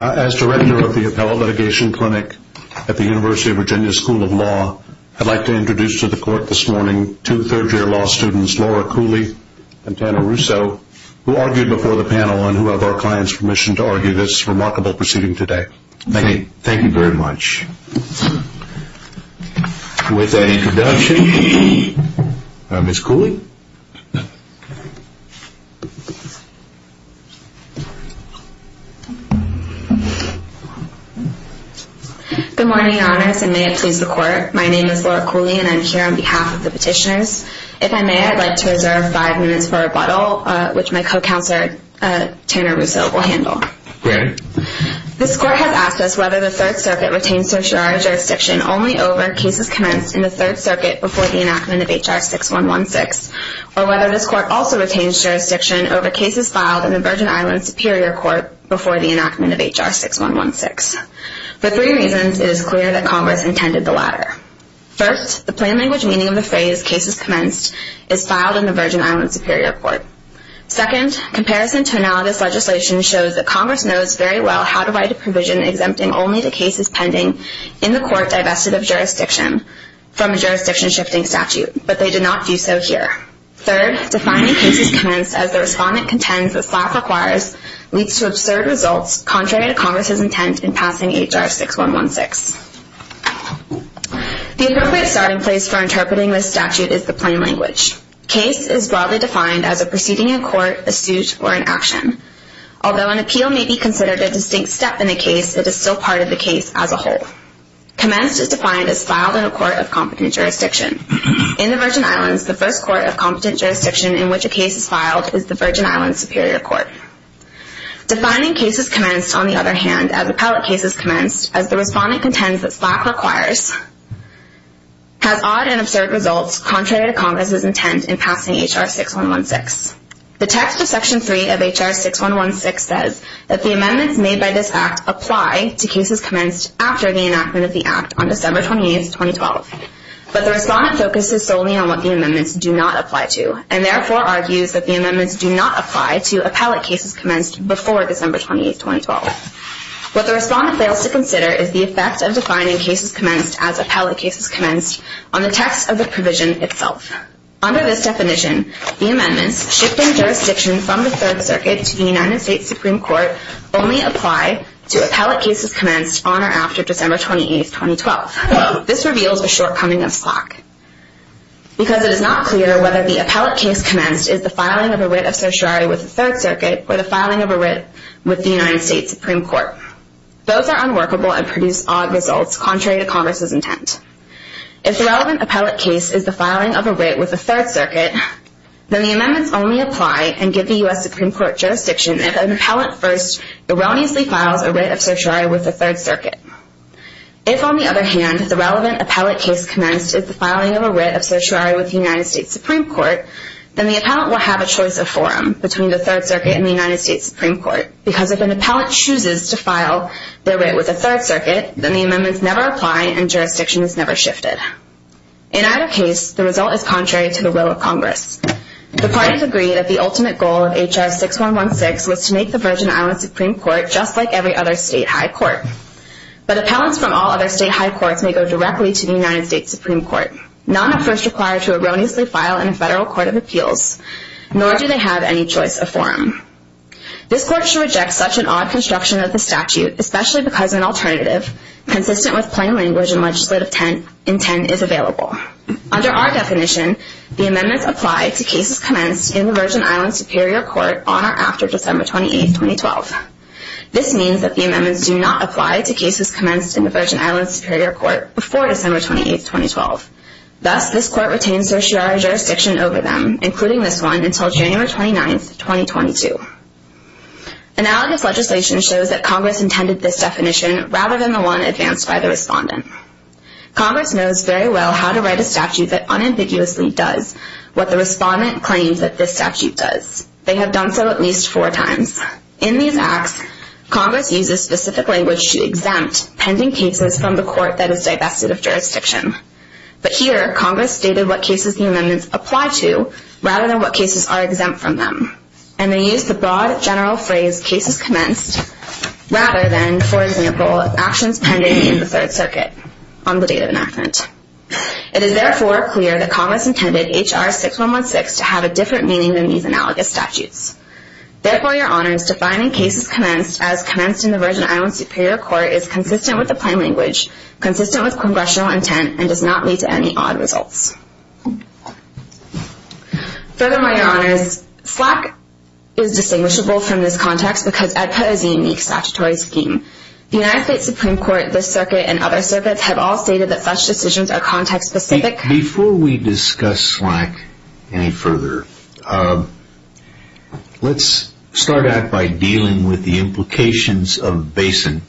As director of the Appellate Litigation Clinic at the University of Virginia School of Law, I'd like to introduce to the court this morning two third-year law students, Laura Cooley and Tanner Russo, who argued before the panel and who have our client's permission to argue this remarkable proceeding today. Thank you. Thank you very much. With that introduction, Ms. Cooley. Good morning, your honors, and may it please the court. My name is Laura Cooley and I'm here on behalf of the petitioners. If I may, I'd like to reserve five minutes for rebuttal, which my co-counselor Tanner Russo will handle. Granted. This court has asked us whether the Third Circuit retains certiorari jurisdiction only over cases commenced in the Third Circuit before the enactment of H.R. 6116, or whether this court also retains jurisdiction over cases filed in the Virgin Islands Superior Court before the enactment of H.R. 6116. For three reasons, it is clear that Congress intended the latter. First, the plain language meaning of the phrase, cases commenced, is filed in the Virgin Islands Superior Court. Second, comparison to analogous legislation shows that Congress knows very well how to write a provision exempting only the cases pending in the court divested of jurisdiction from a jurisdiction-shifting statute, but they did not do so here. Third, defining cases commenced as the respondent contends the slap requires leads to absurd results contrary to Congress's intent in passing H.R. 6116. The appropriate starting place for interpreting this statute is the plain language. Case is broadly defined as a proceeding in court, a suit, or an action. Although an appeal may be considered a distinct step in a case, it is still part of the case as a whole. Commenced is defined as filed in a court of competent jurisdiction. In the Virgin Islands, the first court of competent jurisdiction in which a case is filed is the Virgin Islands Superior Court. Defining cases commenced, on the other hand, as appellate cases commenced, as the respondent contends that slap requires, has odd and absurd results contrary to Congress's intent in passing H.R. 6116. The text of Section 3 of H.R. 6116 says that the amendments made by this Act apply to cases commenced after the enactment of the Act on December 28, 2012. But the respondent focuses solely on what the amendments do not apply to, and therefore argues that the amendments do not apply to appellate cases commenced before December 28, 2012. What the respondent fails to consider is the effect of defining cases commenced as appellate cases commenced on the text of the provision itself. Under this definition, the amendments, shifting jurisdiction from the Third Circuit to the United States Supreme Court, only apply to appellate cases commenced on or after December 28, 2012. This reveals a shortcoming of slap. Because it is not clear whether the appellate case commenced is the filing of a writ of certiorari with the Third Circuit or the filing of a writ with the United States Supreme Court. Both are unworkable and produce odd results contrary to Congress's intent. If the relevant appellate case is the filing of a writ with the Third Circuit, then the amendments only apply and give the U.S. Supreme Court jurisdiction if an appellant first erroneously files a writ of certiorari with the Third Circuit. If, on the other hand, the relevant appellate case commenced is the filing of a writ of certiorari with the United States Supreme Court, then the appellant will have a choice of forum between the Third Circuit and the United States Supreme Court. Because if an appellant chooses to file their writ with the Third Circuit, then the amendments never apply and jurisdiction is never shifted. In either case, the result is contrary to the will of Congress. The parties agree that the ultimate goal of H.R. 6116 was to make the Virgin Islands Supreme Court just like every other state high court. But appellants from all other state high courts may go directly to the United States Supreme Court. None are first required to erroneously file in a federal court of appeals, nor do they have any choice of forum. This Court should reject such an odd construction of the statute, especially because an alternative, consistent with plain language and legislative intent, is available. Under our definition, the amendments apply to cases commenced in the Virgin Islands Superior Court on or after December 28, 2012. This means that the amendments do not apply to cases commenced in the Virgin Islands Superior Court before December 28, 2012. Thus, this Court retains certiorari jurisdiction over them, including this one, until January 29, 2022. Analogous legislation shows that Congress intended this definition rather than the one advanced by the respondent. Congress knows very well how to write a statute that unambiguously does what the respondent claims that this statute does. They have done so at least four times. In these acts, Congress uses specific language to exempt pending cases from the court that is divested of jurisdiction. But here, Congress stated what cases the amendments apply to rather than what cases are exempt from them. And they use the broad general phrase, cases commenced, rather than, for example, actions pending in the Third Circuit on the date of enactment. It is therefore clear that Congress intended H.R. 6116 to have a different meaning than these analogous statutes. Therefore, Your Honors, defining cases commenced as commenced in the Virgin Islands Superior Court is consistent with the plain language, consistent with congressional intent, and does not lead to any odd results. Furthermore, Your Honors, SLAC is distinguishable from this context because it is a unique statutory scheme. The United States Supreme Court, this circuit, and other circuits have all stated that such decisions are context-specific. Before we discuss SLAC any further, let's start out by dealing with the implications of BASIN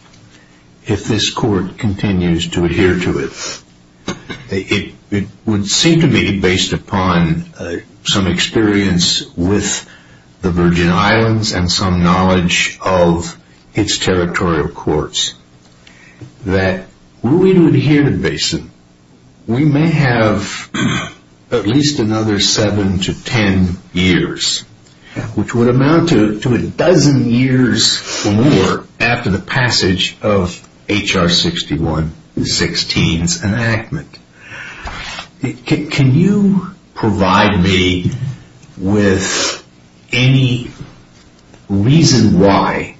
if this court continues to adhere to it. It would seem to me, based upon some experience with the Virgin Islands and some knowledge of its territorial courts, that were we to adhere to BASIN, we may have at least another seven to ten years, which would amount to a dozen years or more after the passage of H.R. 6116's enactment. Can you provide me with any reason why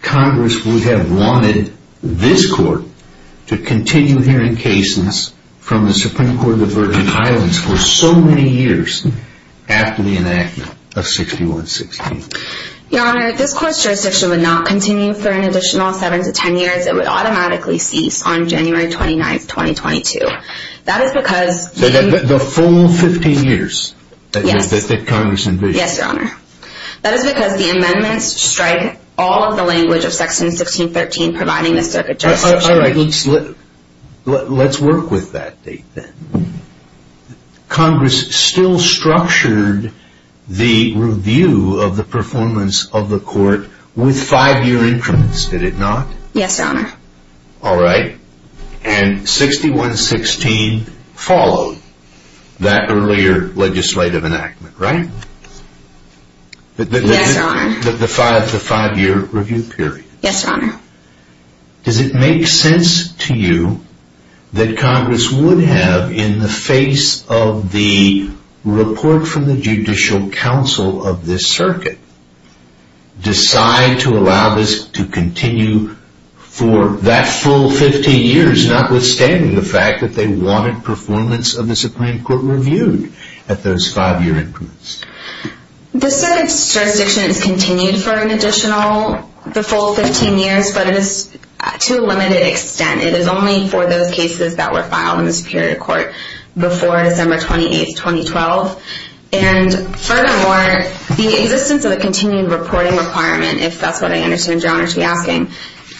Congress would have wanted this court to continue hearing cases from the Supreme Court of the Virgin Islands for so many years after the enactment of H.R. 6116? Your Honor, this court's jurisdiction would not continue for an additional seven to ten years. It would automatically cease on January 29, 2022. That is because... The full 15 years that Congress envisions? Yes, Your Honor. That is because the amendments strike all of the language of Section 1613 All right, let's work with that date then. Congress still structured the review of the performance of the court with five-year increments, did it not? Yes, Your Honor. All right, and H.R. 6116 followed that earlier legislative enactment, right? Yes, Your Honor. Yes, Your Honor. Does it make sense to you that Congress would have, in the face of the report from the Judicial Council of this circuit, decide to allow this to continue for that full 15 years, notwithstanding the fact that they wanted performance of the Supreme Court reviewed at those five-year increments? The circuit's jurisdiction is continued for an additional, the full 15 years, but it is to a limited extent. It is only for those cases that were filed in the Superior Court before December 28, 2012. And furthermore, the existence of the continued reporting requirement, if that's what I understand Your Honor to be asking,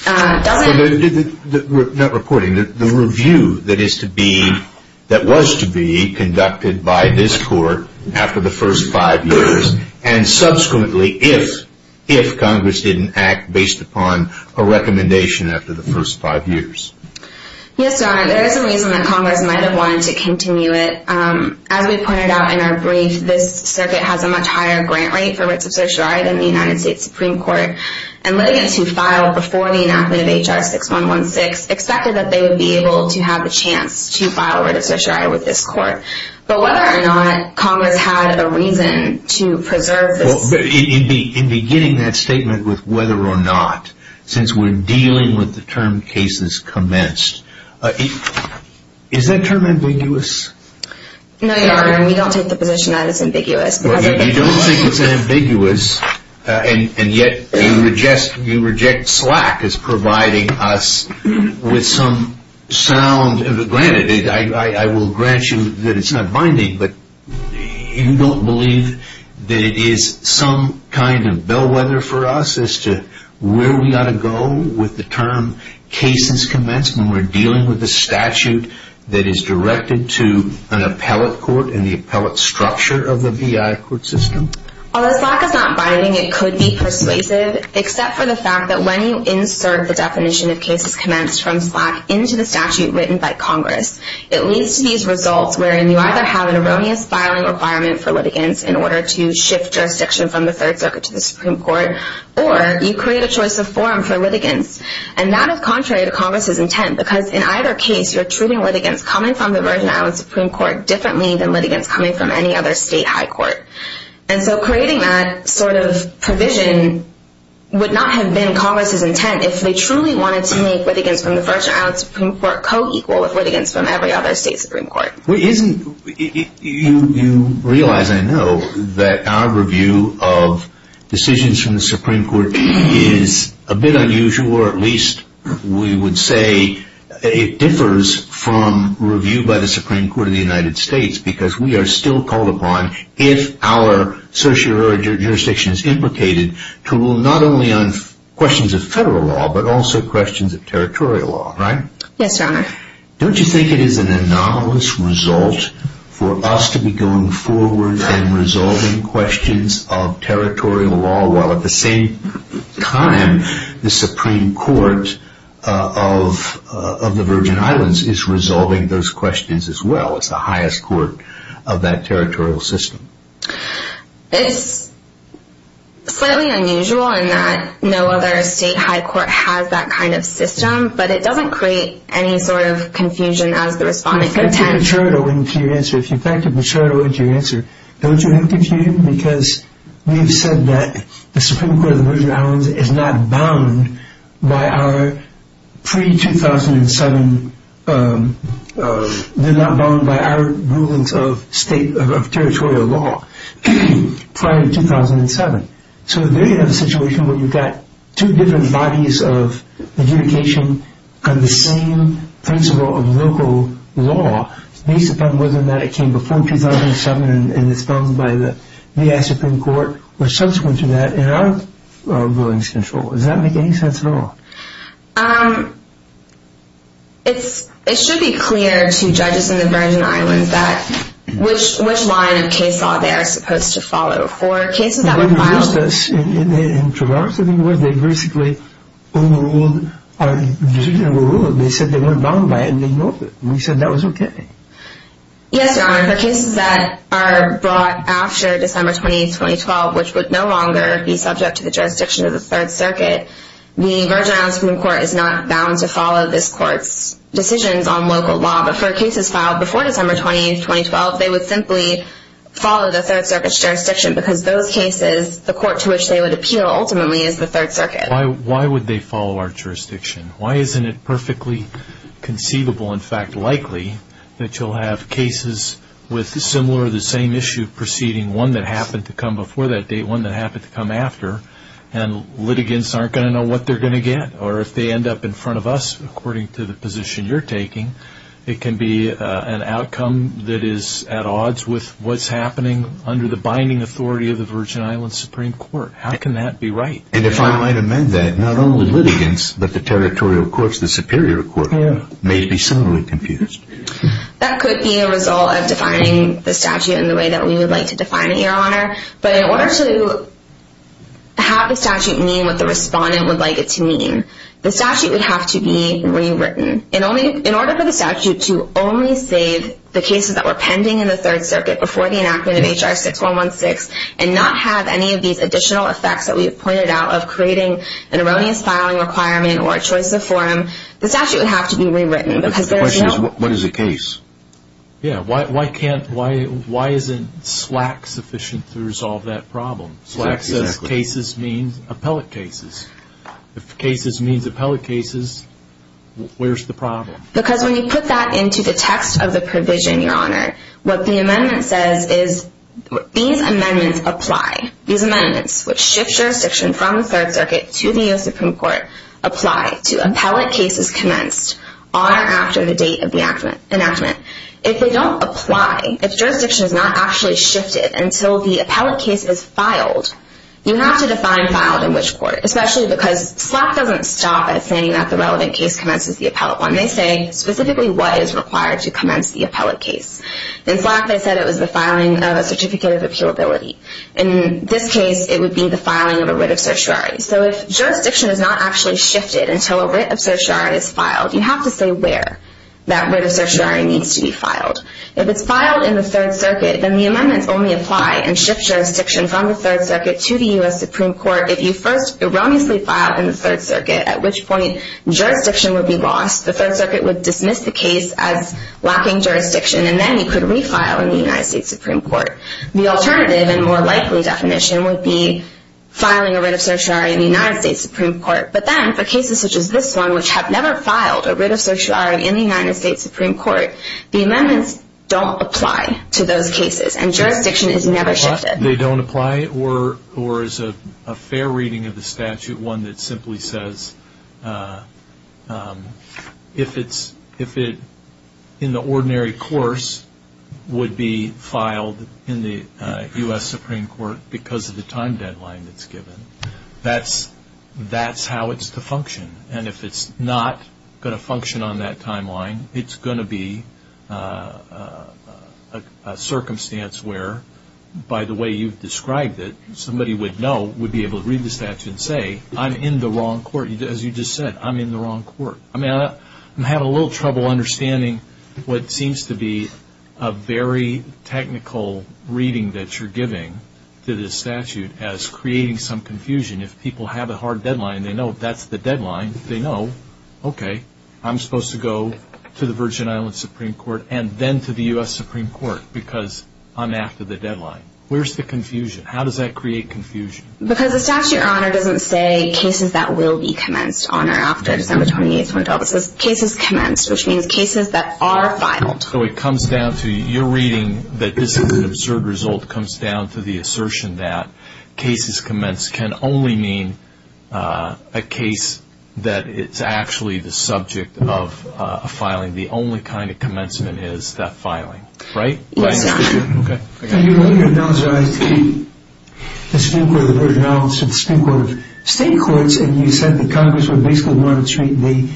doesn't... Not reporting, the review that is to be, that was to be conducted by this court after the first five years, and subsequently if Congress didn't act based upon a recommendation after the first five years. Yes, Your Honor. There is a reason that Congress might have wanted to continue it. As we pointed out in our brief, this circuit has a much higher grant rate for writs of certiorari than the United States Supreme Court. And litigants who filed before the enactment of H.R. 6116 expected that they would be able to have a chance to file writs of certiorari with this court. But whether or not Congress had a reason to preserve this... In beginning that statement with whether or not, since we're dealing with the term cases commenced, is that term ambiguous? No, Your Honor, we don't take the position that it's ambiguous. Well, you don't think it's ambiguous, and yet you reject slack as providing us with some sound... Granted, I will grant you that it's not binding, but you don't believe that it is some kind of bellwether for us as to where we ought to go with the term cases commenced when we're dealing with a statute that is directed to an appellate court and the appellate structure of the BIA court system? Although slack is not binding, it could be persuasive, except for the fact that when you insert the definition of cases commenced from slack into the statute written by Congress, it leads to these results wherein you either have an erroneous filing requirement for litigants in order to shift jurisdiction from the Third Circuit to the Supreme Court, or you create a choice of forum for litigants. And that is contrary to Congress's intent, because in either case, you're treating litigants coming from the Virgin Islands Supreme Court differently than litigants coming from any other state high court. And so creating that sort of provision would not have been Congress's intent if they truly wanted to make litigants from the Virgin Islands Supreme Court co-equal with litigants from every other state Supreme Court. You realize, I know, that our review of decisions from the Supreme Court is a bit unusual, or at least we would say it differs from review by the Supreme Court of the United States, because we are still called upon, if our socio-jurisdiction is implicated, to rule not only on questions of federal law but also questions of territorial law, right? Yes, Your Honor. Don't you think it is an anomalous result for us to be going forward and resolving questions of territorial law while at the same time the Supreme Court of the Virgin Islands is resolving those questions as well? It's the highest court of that territorial system. It's slightly unusual in that no other state high court has that kind of system, but it doesn't create any sort of confusion as the Respondent contends. If you factored the turtle into your answer, don't you have confusion? Because we have said that the Supreme Court of the Virgin Islands is not bound by our pre-2007, they're not bound by our rulings of territorial law prior to 2007. So there you have a situation where you've got two different bodies of adjudication on the same principle of local law, based upon whether or not it came before 2007 and is found by the V.I. Supreme Court or subsequent to that in our rulings control. Does that make any sense at all? It should be clear to judges in the Virgin Islands which line of case law they are supposed to follow. For cases that were filed... In Traverse, I think it was, they basically only ruled... Yes, Your Honor, for cases that are brought after December 20, 2012, which would no longer be subject to the jurisdiction of the Third Circuit, the Virgin Islands Supreme Court is not bound to follow this court's decisions on local law. But for cases filed before December 20, 2012, they would simply follow the Third Circuit's jurisdiction because those cases, the court to which they would appeal ultimately is the Third Circuit. Why would they follow our jurisdiction? Why isn't it perfectly conceivable, in fact likely, that you'll have cases with similar or the same issue proceeding, one that happened to come before that date, one that happened to come after, and litigants aren't going to know what they're going to get? Or if they end up in front of us, according to the position you're taking, it can be an outcome that is at odds with what's happening under the binding authority of the Virgin Islands Supreme Court. How can that be right? And if I might amend that, not only litigants, but the territorial courts, the superior courts, may be similarly confused. That could be a result of defining the statute in the way that we would like to define it, Your Honor. But in order to have the statute mean what the respondent would like it to mean, the statute would have to be rewritten. In order for the statute to only save the cases that were pending in the Third Circuit before the enactment of H.R. 6116 and not have any of these additional effects that we have pointed out of creating an erroneous filing requirement or a choice of forum, the statute would have to be rewritten. But the question is, what is a case? Yeah, why isn't SLAC sufficient to resolve that problem? Exactly. SLAC says cases means appellate cases. If cases means appellate cases, where's the problem? Because when you put that into the text of the provision, Your Honor, what the amendment says is these amendments apply. These amendments, which shift jurisdiction from the Third Circuit to the U.S. Supreme Court, apply to appellate cases commenced on or after the date of the enactment. If they don't apply, if jurisdiction is not actually shifted until the appellate case is filed, you have to define filed in which court, especially because SLAC doesn't stop at saying that the relevant case commences the appellate one. They say specifically what is required to commence the appellate case. In SLAC, they said it was the filing of a certificate of appealability. In this case, it would be the filing of a writ of certiorari. So if jurisdiction is not actually shifted until a writ of certiorari is filed, you have to say where that writ of certiorari needs to be filed. If it's filed in the Third Circuit, then the amendments only apply and shift jurisdiction from the Third Circuit to the U.S. Supreme Court if you first erroneously filed in the Third Circuit, at which point jurisdiction would be lost. The Third Circuit would dismiss the case as lacking jurisdiction, and then you could refile in the U.S. Supreme Court. The alternative and more likely definition would be filing a writ of certiorari in the U.S. Supreme Court. But then for cases such as this one, which have never filed a writ of certiorari in the U.S. Supreme Court, the amendments don't apply to those cases, and jurisdiction is never shifted. They don't apply, or as a fair reading of the statute, one that simply says if it in the ordinary course would be filed in the U.S. Supreme Court because of the time deadline that's given, that's how it's to function. And if it's not going to function on that timeline, it's going to be a circumstance where, by the way you've described it, somebody would know, would be able to read the statute and say, I'm in the wrong court, as you just said, I'm in the wrong court. I mean, I'm having a little trouble understanding what seems to be a very technical reading that you're giving to this statute as creating some confusion. If people have a hard deadline and they know that's the deadline, they know, okay, I'm supposed to go to the Virgin Islands Supreme Court and then to the U.S. Supreme Court because I'm after the deadline. Where's the confusion? How does that create confusion? Because the statute, Your Honor, doesn't say cases that will be commenced, Your Honor, after December 28th went to office. It says cases commenced, which means cases that are filed. So it comes down to your reading that this is an absurd result or it comes down to the assertion that cases commenced can only mean a case that it's actually the subject of a filing. The only kind of commencement is theft filing, right? Yes, Your Honor. Okay. You only announced the Supreme Court of the Virgin Islands to the Supreme Court of state courts and you said the Congress would basically want to treat the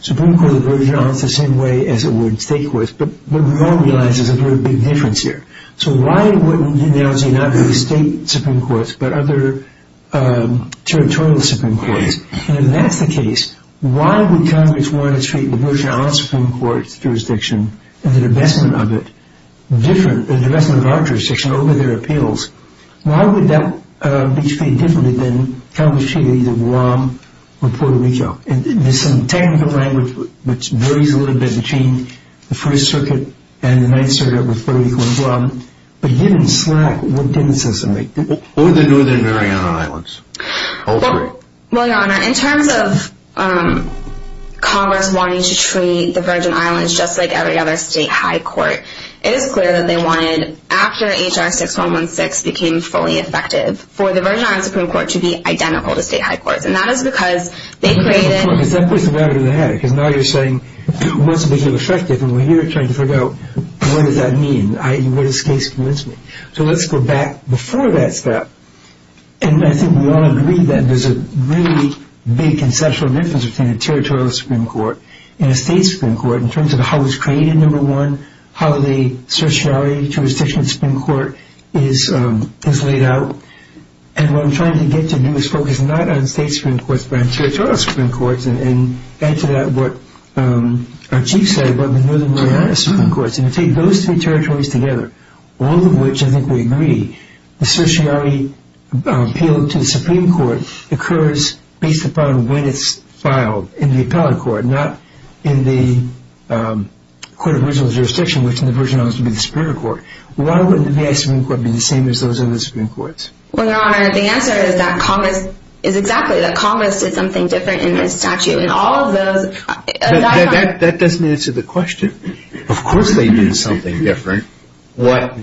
Supreme Court of the Virgin Islands the same way as it would state courts. But we all realize there's a very big difference here. So why wouldn't you now say not only state supreme courts but other territorial supreme courts? And if that's the case, why would Congress want to treat the Virgin Islands Supreme Court jurisdiction and the divestment of it different, the divestment of our jurisdiction over their appeals, why would that be treated differently than Congress treated either Guam or Puerto Rico? And there's some technical language which varies a little bit between the First Circuit and the Ninth Circuit with Puerto Rico and Guam. But given slack, what difference does it make? Or the Northern Virgin Islands. All three. Well, Your Honor, in terms of Congress wanting to treat the Virgin Islands just like every other state high court, it is clear that they wanted, after H.R. 6116 became fully effective, for the Virgin Islands Supreme Court to be identical to state high courts. And that is because they created Because now you're saying once it became effective, and we're here trying to figure out what does that mean? What does this case convince me? So let's go back before that step. And I think we all agree that there's a really big conceptual difference between a territorial supreme court and a state supreme court in terms of how it was created, number one, how the certiorari jurisdiction of the supreme court is laid out. And what I'm trying to get to do is focus not on state supreme courts but on territorial supreme courts and add to that what our chief said about the Northern Mariana Supreme Courts. And if you take those three territories together, all of which I think we agree, the certiorari appeal to the supreme court occurs based upon when it's filed in the appellate court, not in the court of original jurisdiction, which in the Virgin Islands would be the supreme court. Why wouldn't the V.I. Supreme Court be the same as those other supreme courts? Well, Your Honor, the answer is that Congress is exactly that. Congress did something different in this statute. And all of those... That doesn't answer the question. Of course they did something different. What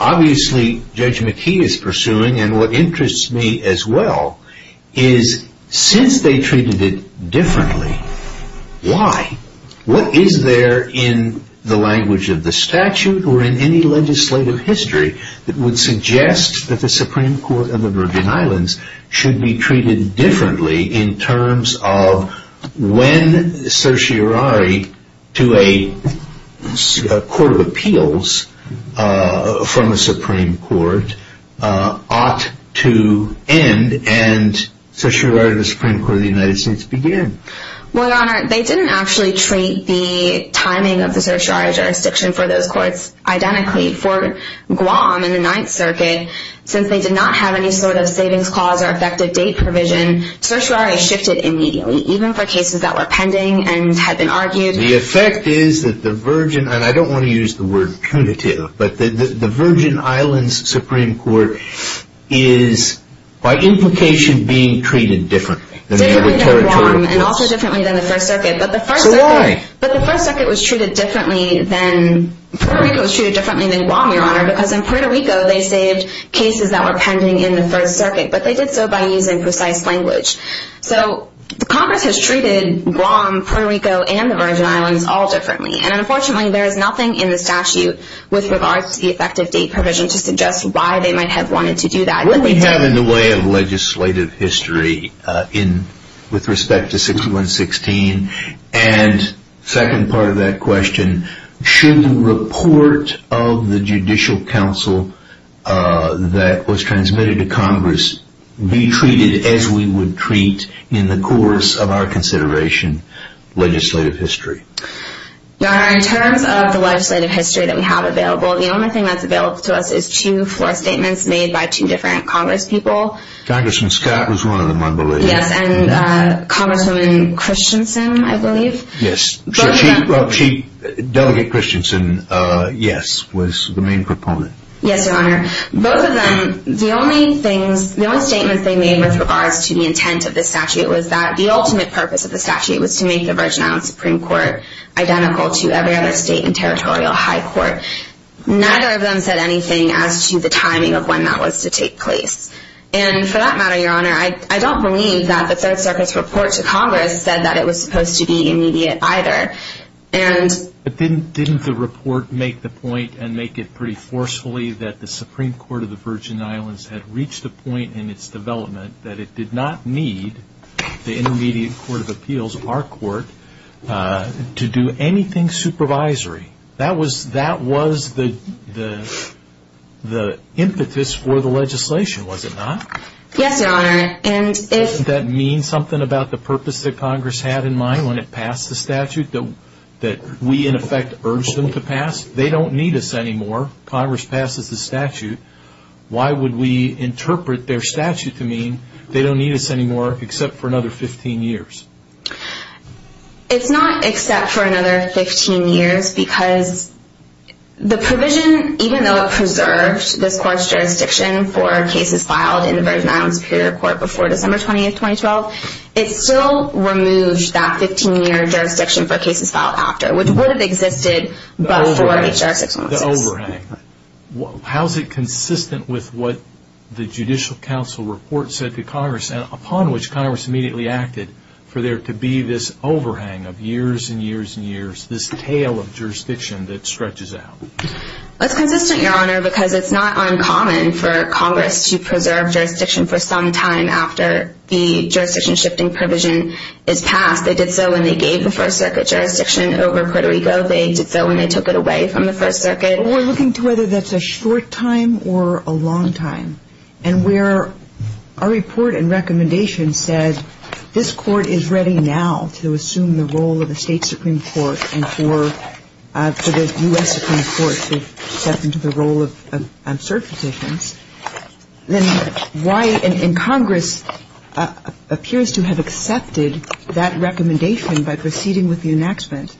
obviously Judge McKee is pursuing and what interests me as well is since they treated it differently, why? What is there in the language of the statute or in any legislative history that would suggest that the Supreme Court of the Virgin Islands should be treated differently in terms of when certiorari to a court of appeals from a supreme court ought to end and certiorari to the Supreme Court of the United States begin? Well, Your Honor, they didn't actually treat the timing of the certiorari jurisdiction for those courts identically. For Guam in the Ninth Circuit, since they did not have any sort of savings clause or effective date provision, certiorari shifted immediately, even for cases that were pending and had been argued. The effect is that the Virgin, and I don't want to use the word punitive, but the Virgin Islands Supreme Court is, by implication, being treated differently. Differently than Guam and also differently than the First Circuit. So why? But the First Circuit was treated differently than— Puerto Rico was treated differently than Guam, Your Honor, because in Puerto Rico they saved cases that were pending in the First Circuit, but they did so by using precise language. So Congress has treated Guam, Puerto Rico, and the Virgin Islands all differently, and unfortunately there is nothing in the statute with regards to the effective date provision to suggest why they might have wanted to do that. What we have in the way of legislative history with respect to 6116 and the second part of that question, should the report of the Judicial Council that was transmitted to Congress be treated as we would treat in the course of our consideration legislative history? Your Honor, in terms of the legislative history that we have available, the only thing that's available to us is two floor statements made by two different Congress people. Congressman Scott was one of them, I believe. Yes, and Congresswoman Christensen, I believe. Yes. Chief Delegate Christensen, yes, was the main proponent. Yes, Your Honor. Both of them, the only statement they made with regards to the intent of the statute was that the ultimate purpose of the statute was to make the Virgin Islands Supreme Court identical to every other state and territorial high court. Neither of them said anything as to the timing of when that was to take place. And for that matter, Your Honor, I don't believe that the Third Circuit's report to Congress said that it was supposed to be immediate either. But didn't the report make the point and make it pretty forcefully that the Supreme Court of the Virgin Islands had reached a point in its development that it did not need the Intermediate Court of Appeals, our court, to do anything supervisory? That was the impetus for the legislation, was it not? Yes, Your Honor. Doesn't that mean something about the purpose that Congress had in mind when it passed the statute that we, in effect, urged them to pass? They don't need us anymore. Congress passes the statute. Why would we interpret their statute to mean they don't need us anymore except for another 15 years? It's not except for another 15 years because the provision, even though it preserved this court's jurisdiction for cases filed in the Virgin Islands Superior Court before December 20, 2012, it still removed that 15-year jurisdiction for cases filed after, which would have existed before H.R. 616. The overhang. How is it consistent with what the Judicial Council report said to Congress, upon which Congress immediately acted for there to be this overhang of years and years and years, this tale of jurisdiction that stretches out? It's consistent, Your Honor, because it's not uncommon for Congress to preserve jurisdiction for some time after the jurisdiction-shifting provision is passed. They did so when they gave the First Circuit jurisdiction over Puerto Rico. They did so when they took it away from the First Circuit. We're looking to whether that's a short time or a long time. And where our report and recommendation said this Court is ready now to assume the role of the State Supreme Court and for the U.S. Supreme Court to step into the role of cert petitions, then why in Congress appears to have accepted that recommendation by proceeding with the enactment,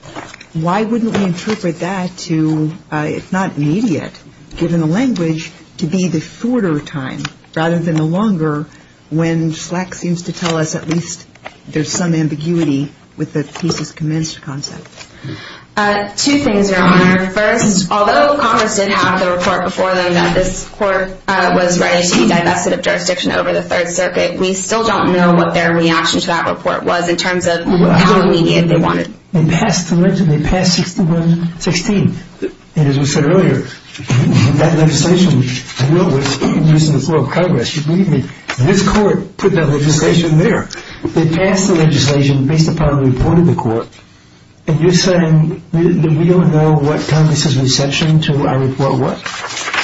why wouldn't we interpret that to, if not immediate, given the language, to be the shorter time rather than the longer when Slack seems to tell us at least there's some ambiguity with the thesis commenced concept? Two things, Your Honor. First, although Congress did have the report before them that this Court was ready to be divested of jurisdiction over the Third Circuit, we still don't know what their reaction to that report was in terms of how immediate they want it. They passed the legislation. They passed 6116. And as we said earlier, that legislation dealt with the use of the floor of Congress. Believe me, this Court put that legislation there. They passed the legislation based upon the report of the Court. And you're saying that we don't know what Congress's reception to our report was?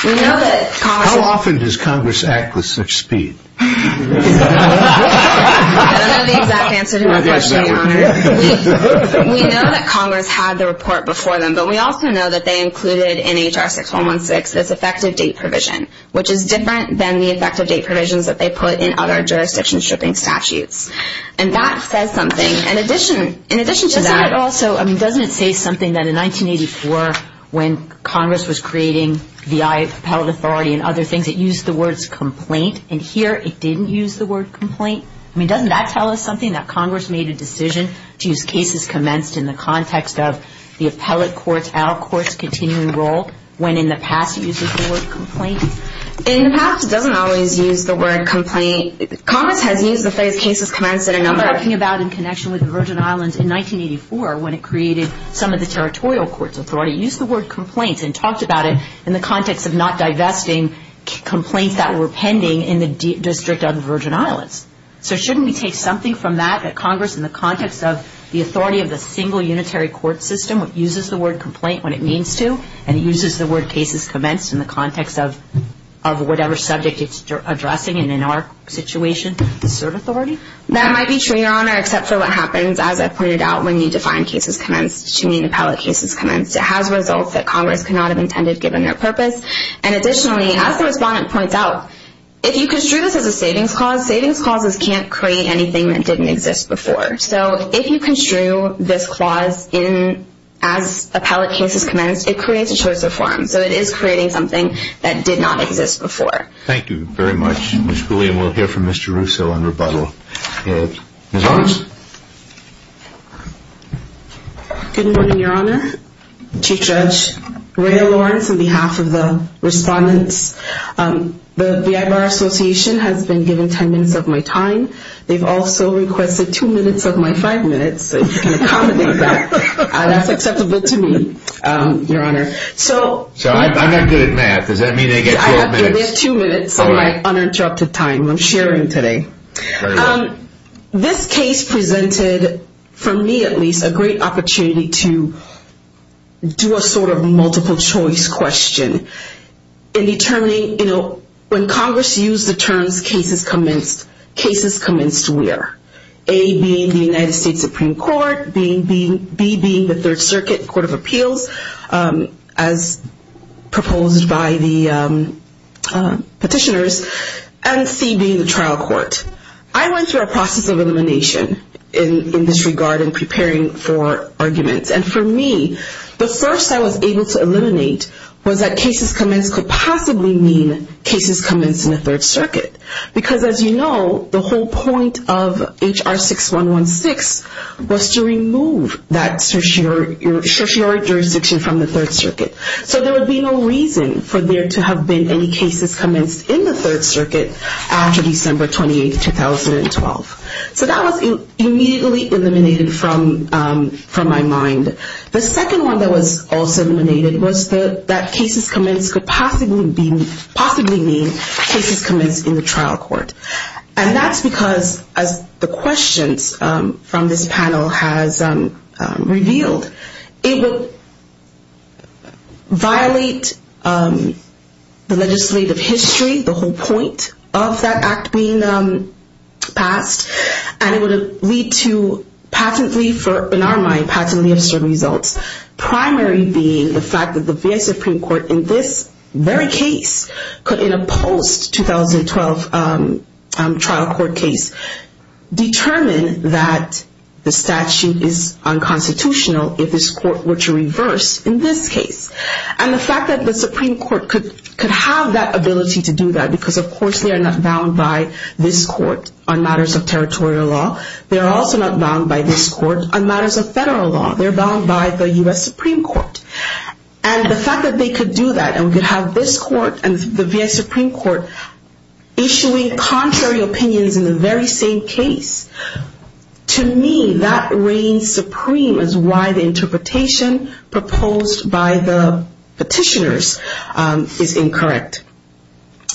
We know that Congress- How often does Congress act with such speed? I don't know the exact answer to my question, Your Honor. We know that Congress had the report before them, but we also know that they included in H.R. 6116 this effective date provision, which is different than the effective date provisions that they put in other jurisdiction stripping statutes. And that says something. In addition to that- Doesn't it also, I mean, doesn't it say something that in 1984, when Congress was creating the IAPL authority and other things, it used the words complaint, and here it didn't use the word complaint? I mean, doesn't that tell us something, that Congress made a decision to use cases commenced in the context of the appellate court's out-of-courts continuing role, when in the past it used the word complaint? In the past, it doesn't always use the word complaint. Congress has used the phrase cases commenced in a number of- I'm talking about in connection with the Virgin Islands. In 1984, when it created some of the territorial courts authority, it used the word complaint and talked about it in the context of not divesting complaints that were pending in the district of the Virgin Islands. So shouldn't we take something from that that Congress, in the context of the authority of the single unitary court system, uses the word complaint when it means to, and it uses the word cases commenced in the context of whatever subject it's addressing and in our situation to serve authority? That might be true, Your Honor, except for what happens, as I pointed out, when you define cases commenced to mean appellate cases commenced. It has results that Congress could not have intended given their purpose. And additionally, as the respondent points out, if you construe this as a savings clause, savings clauses can't create anything that didn't exist before. So if you construe this clause as appellate cases commenced, it creates a choice of form. So it is creating something that did not exist before. Thank you very much, Ms. Cooley. And we'll hear from Mr. Russo on rebuttal. Ms. Lawrence? Good morning, Your Honor. Chief Judge Ray Lawrence on behalf of the respondents. The VI Bar Association has been given ten minutes of my time. They've also requested two minutes of my five minutes, if you can accommodate that. That's acceptable to me, Your Honor. So I'm not good at math. Does that mean they get two minutes? They get two minutes of my uninterrupted time I'm sharing today. Very well. This case presented, for me at least, a great opportunity to do a sort of multiple-choice question in determining, you know, when Congress used the terms cases commenced, cases commenced where? A being the United States Supreme Court, B being the Third Circuit Court of Appeals, as proposed by the petitioners, and C being the trial court. I went through a process of elimination in this regard in preparing for arguments. And for me, the first I was able to eliminate was that cases commenced could possibly mean cases commenced in the Third Circuit. Because, as you know, the whole point of H.R. 6116 was to remove that certiorari jurisdiction from the Third Circuit. So there would be no reason for there to have been any cases commenced in the Third Circuit after December 28, 2012. So that was immediately eliminated from my mind. The second one that was also eliminated was that cases commenced could possibly mean cases commenced in the trial court. And that's because, as the questions from this panel has revealed, it would violate the legislative history, the whole point of that act being passed. And it would lead to patently, in our mind, patently absurd results. Primary being the fact that the VA Supreme Court in this very case could, in a post-2012 trial court case, determine that the statute is unconstitutional if this court were to reverse in this case. And the fact that the Supreme Court could have that ability to do that, because, of course, they are not bound by this court on matters of territorial law. They are also not bound by this court on matters of federal law. They are bound by the U.S. Supreme Court. And the fact that they could do that, and we could have this court and the VA Supreme Court issuing contrary opinions in the very same case, to me, that reigns supreme as why the interpretation proposed by the petitioners is incorrect.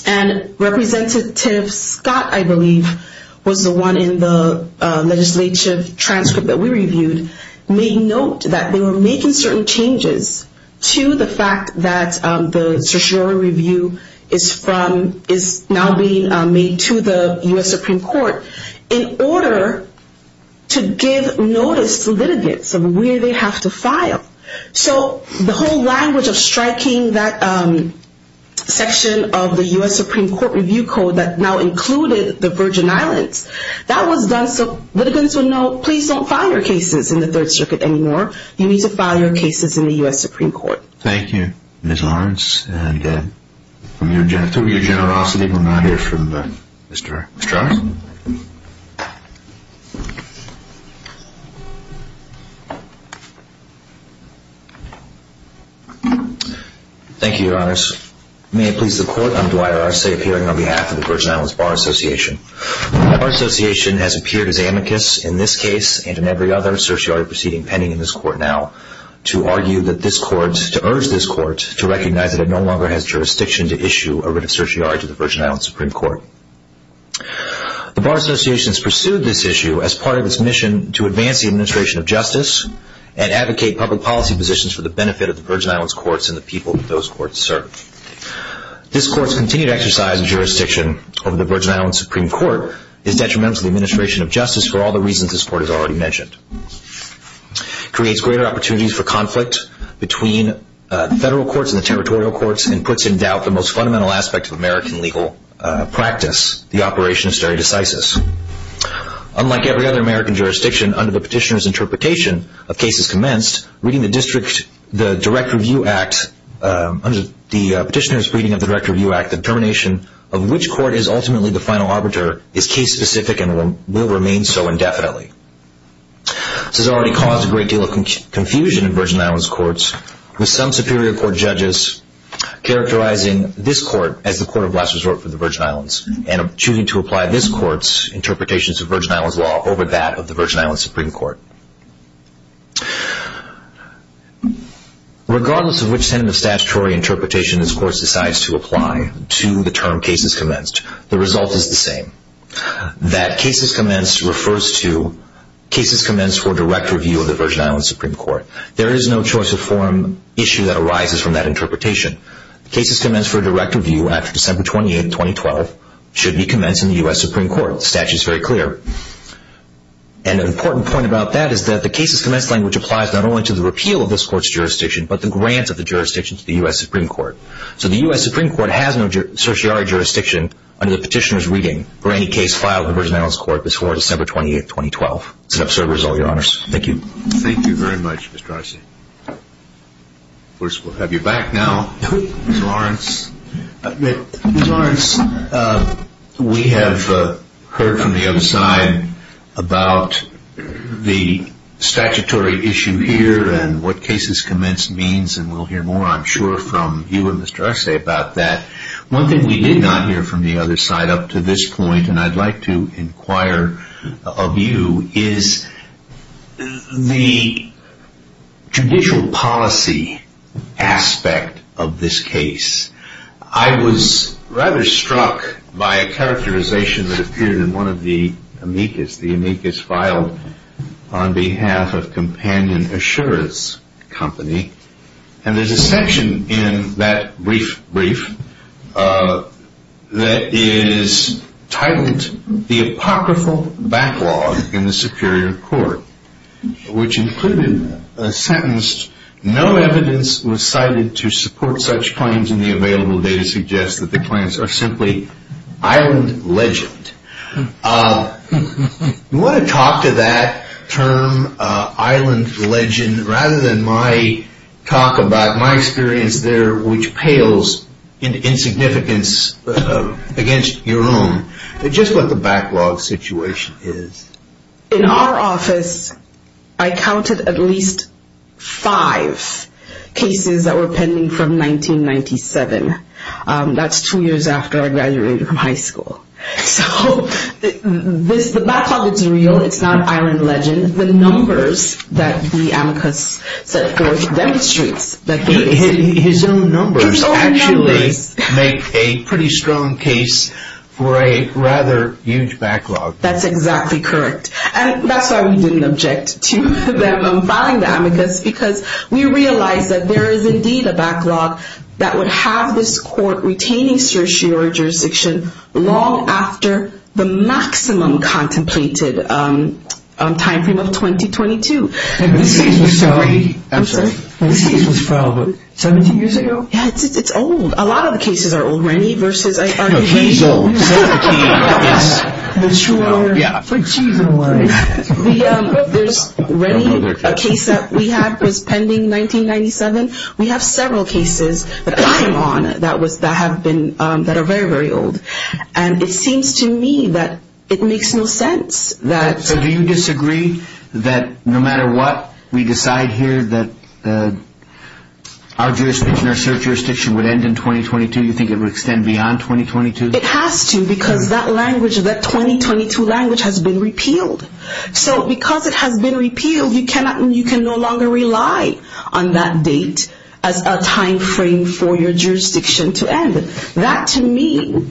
And Representative Scott, I believe, was the one in the legislative transcript that we reviewed, made note that they were making certain changes to the fact that the certiorari review is now being made to the U.S. Supreme Court in order to give notice to litigants of where they have to file. So the whole language of striking that section of the U.S. Supreme Court review code that now included the Virgin Islands, that was done so litigants would know, please don't file your cases in the Third Circuit anymore. You need to file your cases in the U.S. Supreme Court. Thank you, Ms. Lawrence. And through your generosity, we'll now hear from Mr. Arce. Thank you, Your Honors. May it please the Court, I'm Dwight Arce, appearing on behalf of the Virgin Islands Bar Association. Our association has appeared as amicus in this case and in every other certiorari proceeding pending in this court now to argue that this court, to urge this court to recognize that it no longer has jurisdiction to issue a writ of certiorari to the Virgin Islands Supreme Court. The Bar Association has pursued this issue as part of its mission to advance the administration of justice and advocate public policy positions for the benefit of the Virgin Islands courts and the people that those courts serve. This court's continued exercise of jurisdiction over the Virgin Islands Supreme Court is detrimental to the administration of justice for all the reasons this court has already mentioned. It creates greater opportunities for conflict between federal courts and the territorial courts and puts in doubt the most fundamental aspect of American legal practice, the operation of certiorari decisis. Unlike every other American jurisdiction, under the petitioner's interpretation of cases commenced, reading the district, the Direct Review Act, under the petitioner's reading of the Direct Review Act, the determination of which court is ultimately the final arbiter is case-specific and will remain so indefinitely. This has already caused a great deal of confusion in Virgin Islands courts with some Superior Court judges characterizing this court as the court of last resort for the Virgin Islands and choosing to apply this court's interpretations of Virgin Islands law over that of the Virgin Islands Supreme Court. Regardless of which sentence of statutory interpretation this court decides to apply to the term cases commenced, the result is the same. That cases commenced refers to cases commenced for direct review of the Virgin Islands Supreme Court. There is no choice of forum issue that arises from that interpretation. Cases commenced for direct review after December 28, 2012 should be commenced in the U.S. Supreme Court. The statute is very clear. An important point about that is that the cases commenced language applies not only to the repeal of this court's jurisdiction but the grant of the jurisdiction to the U.S. Supreme Court. So the U.S. Supreme Court has no certiorari jurisdiction under the petitioner's reading for any case filed with the Virgin Islands Court before December 28, 2012. This is an absurd result, Your Honors. Thank you. Thank you very much, Mr. Arce. Of course, we'll have you back now, Ms. Lawrence. Ms. Lawrence, we have heard from the other side about the statutory issue here and what cases commenced means, and we'll hear more, I'm sure, from you and Mr. Arce about that. One thing we did not hear from the other side up to this point, and I'd like to inquire of you, is the judicial policy aspect of this case. I was rather struck by a characterization that appeared in one of the amicus, the amicus filed on behalf of Companion Assurance Company, and there's a section in that brief that is titled The Apocryphal Backlog in the Superior Court, which included a sentence, No evidence was cited to support such claims, and the available data suggests that the claims are simply island legend. You want to talk to that term, island legend, rather than my talk about my experience there, which pales in insignificance against your own, just what the backlog situation is. In our office, I counted at least five cases that were pending from 1997. That's two years after I graduated from high school. So, the backlog is real, it's not island legend. The numbers that the amicus set forth demonstrates that they exist. His own numbers actually make a pretty strong case for a rather huge backlog. That's exactly correct. And that's why we didn't object to them filing the amicus, because we realized that there is indeed a backlog that would have this court retaining certiorari jurisdiction long after the maximum contemplated time frame of 2022. And this case was filed 17 years ago? Yeah, it's old. A lot of the cases are old. Rennie versus Artie Hazel. No, he's old. So is the key, I guess. For cheese and wine. There's Rennie, a case that we have that's pending 1997. We have several cases that I'm on that are very, very old. And it seems to me that it makes no sense. So, do you disagree that no matter what, we decide here that our jurisdiction, our cert jurisdiction, would end in 2022? You think it would extend beyond 2022? It has to, because that language, that 2022 language, has been repealed. So, because it has been repealed, you can no longer rely on that date as a time frame for your jurisdiction to end. That, to me,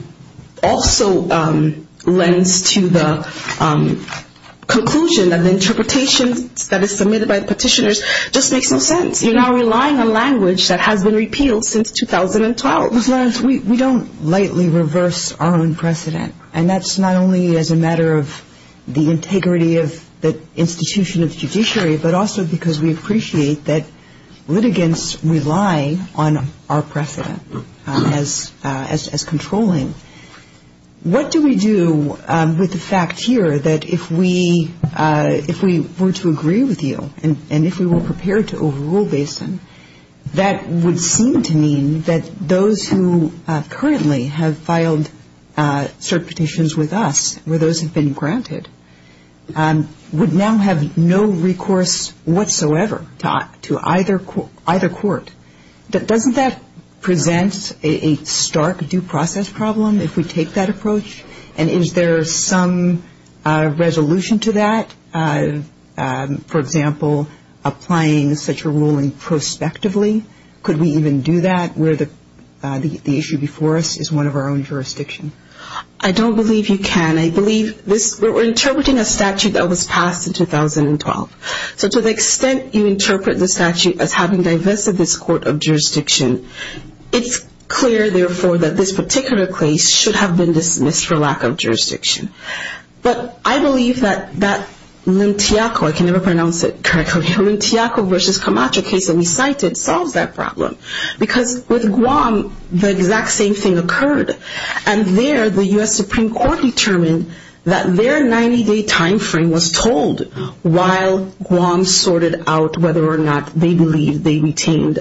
also lends to the conclusion that the interpretation that is submitted by the petitioners just makes no sense. You're now relying on language that has been repealed since 2012. Ms. Lawrence, we don't lightly reverse our own precedent. And that's not only as a matter of the integrity of the institution of the judiciary, but also because we appreciate that litigants rely on our precedent as controlling. What do we do with the fact here that if we were to agree with you and if we were prepared to overrule Basin, that would seem to mean that those who currently have filed cert petitions with us, where those have been granted, would now have no recourse whatsoever to either court. Doesn't that present a stark due process problem if we take that approach? And is there some resolution to that? For example, applying such a ruling prospectively? Could we even do that where the issue before us is one of our own jurisdictions? I don't believe you can. We're interpreting a statute that was passed in 2012. So to the extent you interpret the statute as having divested this court of jurisdiction, it's clear, therefore, that this particular case should have been dismissed for lack of jurisdiction. But I believe that that Limtiaco, I can never pronounce it correctly, Limtiaco v. Camacho case that we cited solves that problem. Because with Guam, the exact same thing occurred. And there the U.S. Supreme Court determined that their 90-day time frame was told while Guam sorted out whether or not they believed they retained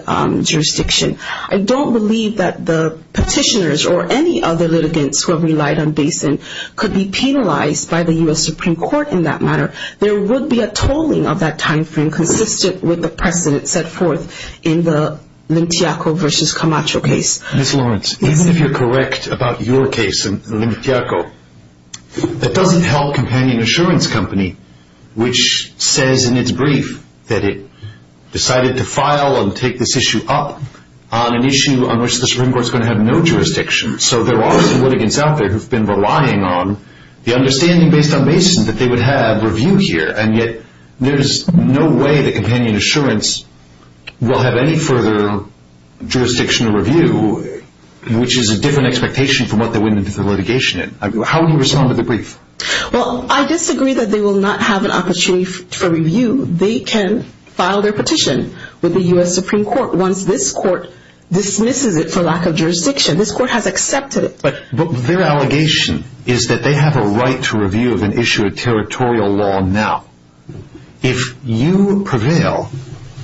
jurisdiction. I don't believe that the petitioners or any other litigants who have relied on Basin could be penalized by the U.S. Supreme Court in that matter. There would be a tolling of that time frame consistent with the precedent set forth in the Limtiaco v. Camacho case. Ms. Lawrence, even if you're correct about your case in Limtiaco, that doesn't help Companion Assurance Company, which says in its brief that it decided to file and take this issue up on an issue on which the Supreme Court is going to have no jurisdiction. So there are some litigants out there who've been relying on the understanding based on Basin that they would have review here, and yet there's no way that Companion Assurance will have any further jurisdiction or review, which is a different expectation from what they went into the litigation in. How would you respond to the brief? Well, I disagree that they will not have an opportunity for review. They can file their petition with the U.S. Supreme Court once this court dismisses it for lack of jurisdiction. This court has accepted it. But their allegation is that they have a right to review of an issue of territorial law now. If you prevail,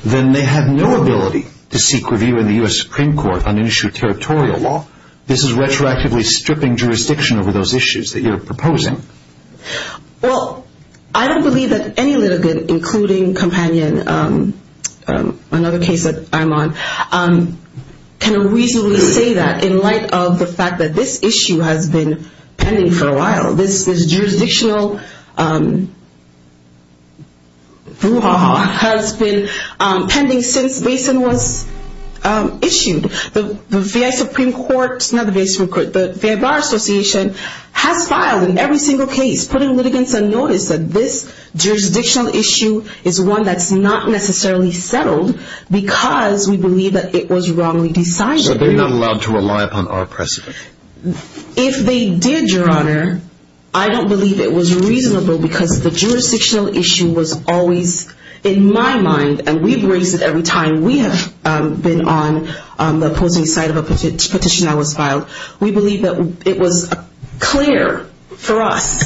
then they have no ability to seek review in the U.S. Supreme Court on an issue of territorial law. This is retroactively stripping jurisdiction over those issues that you're proposing. Well, I don't believe that any litigant, including Companion, another case that I'm on, can reasonably say that in light of the fact that this issue has been pending for a while. This jurisdictional has been pending since Basin was issued. The FBI Bar Association has filed in every single case putting litigants on notice that this jurisdictional issue is one that's not necessarily settled because we believe that it was wrongly decided. So they're not allowed to rely upon our precedent? If they did, Your Honor, I don't believe it was reasonable because the jurisdictional issue was always, in my mind, and we've raised it every time we have been on the opposing side of a petition that was filed, we believe that it was clear for us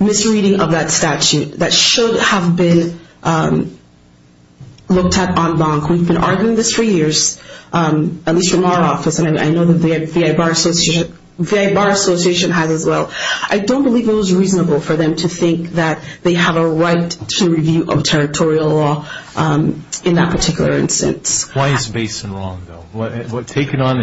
misreading of that statute that should have been looked at en banc. We've been arguing this for years, at least from our office, and I know that the FBI Bar Association has as well. I don't believe it was reasonable for them to think that they have a right to review of territorial law in that particular instance. Why is Basin wrong, though? Take it on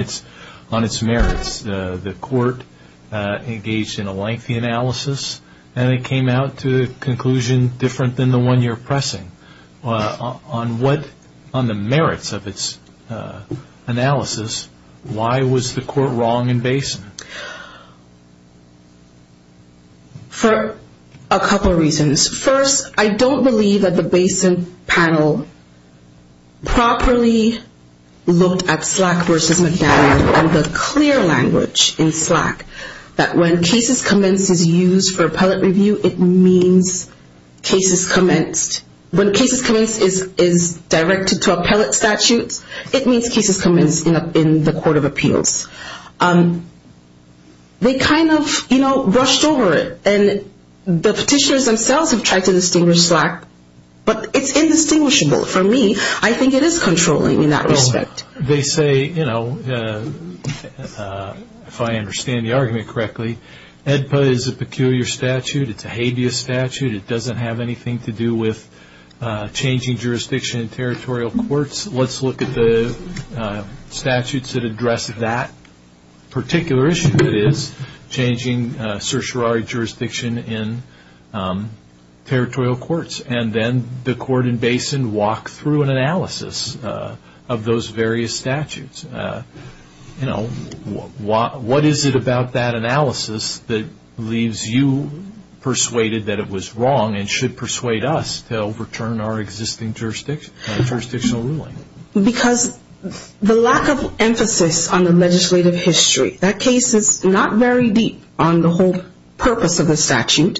its merits. The court engaged in a lengthy analysis, and it came out to a conclusion different than the one you're pressing. On the merits of its analysis, why was the court wrong in Basin? For a couple reasons. First, I don't believe that the Basin panel properly looked at Slack v. McDaniel and the clear language in Slack that when cases commence is used for appellate review, it means cases commenced. When cases commence is directed to appellate statutes, it means cases commenced in the court of appeals. They kind of brushed over it, and the petitioners themselves have tried to distinguish Slack, but it's indistinguishable. For me, I think it is controlling in that respect. They say, if I understand the argument correctly, EDPA is a peculiar statute. It's a habeas statute. It doesn't have anything to do with changing jurisdiction in territorial courts. Let's look at the statutes that address that particular issue. It is changing certiorari jurisdiction in territorial courts. And then the court in Basin walked through an analysis of those various statutes. What is it about that analysis that leaves you persuaded that it was wrong and should persuade us to overturn our existing jurisdictional ruling? Because the lack of emphasis on the legislative history. That case is not very deep on the whole purpose of the statute.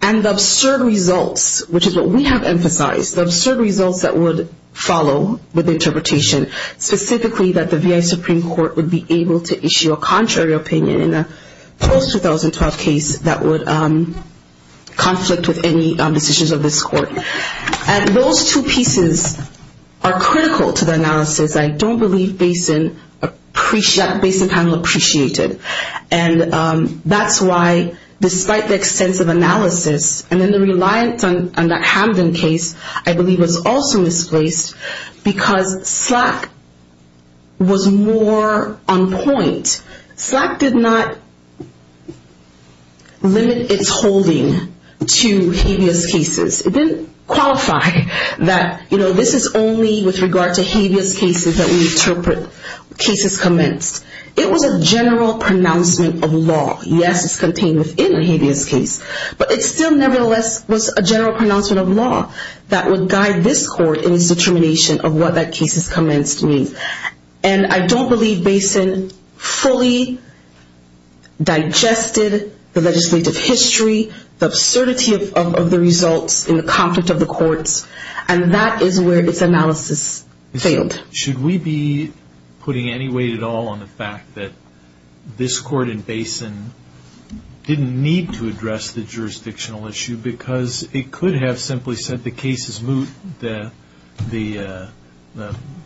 And the absurd results, which is what we have emphasized, the absurd results that would follow with interpretation, specifically that the VA Supreme Court would be able to issue a contrary opinion in a post-2012 case that would conflict with any decisions of this court. And those two pieces are critical to the analysis. I don't believe Basin panel appreciated. And that's why, despite the extensive analysis, and then the reliance on that Hamden case, I believe was also misplaced because SLAC was more on point. SLAC did not limit its holding to habeas cases. It didn't qualify that, you know, this is only with regard to habeas cases that we interpret cases commenced. It was a general pronouncement of law. Yes, it's contained within a habeas case, but it still nevertheless was a general pronouncement of law that would guide this court in its determination of what that case has commenced means. And I don't believe Basin fully digested the legislative history, the absurdity of the results in the conflict of the courts, and that is where its analysis failed. Should we be putting any weight at all on the fact that this court in Basin didn't need to address the jurisdictional issue because it could have simply said the case is moot. The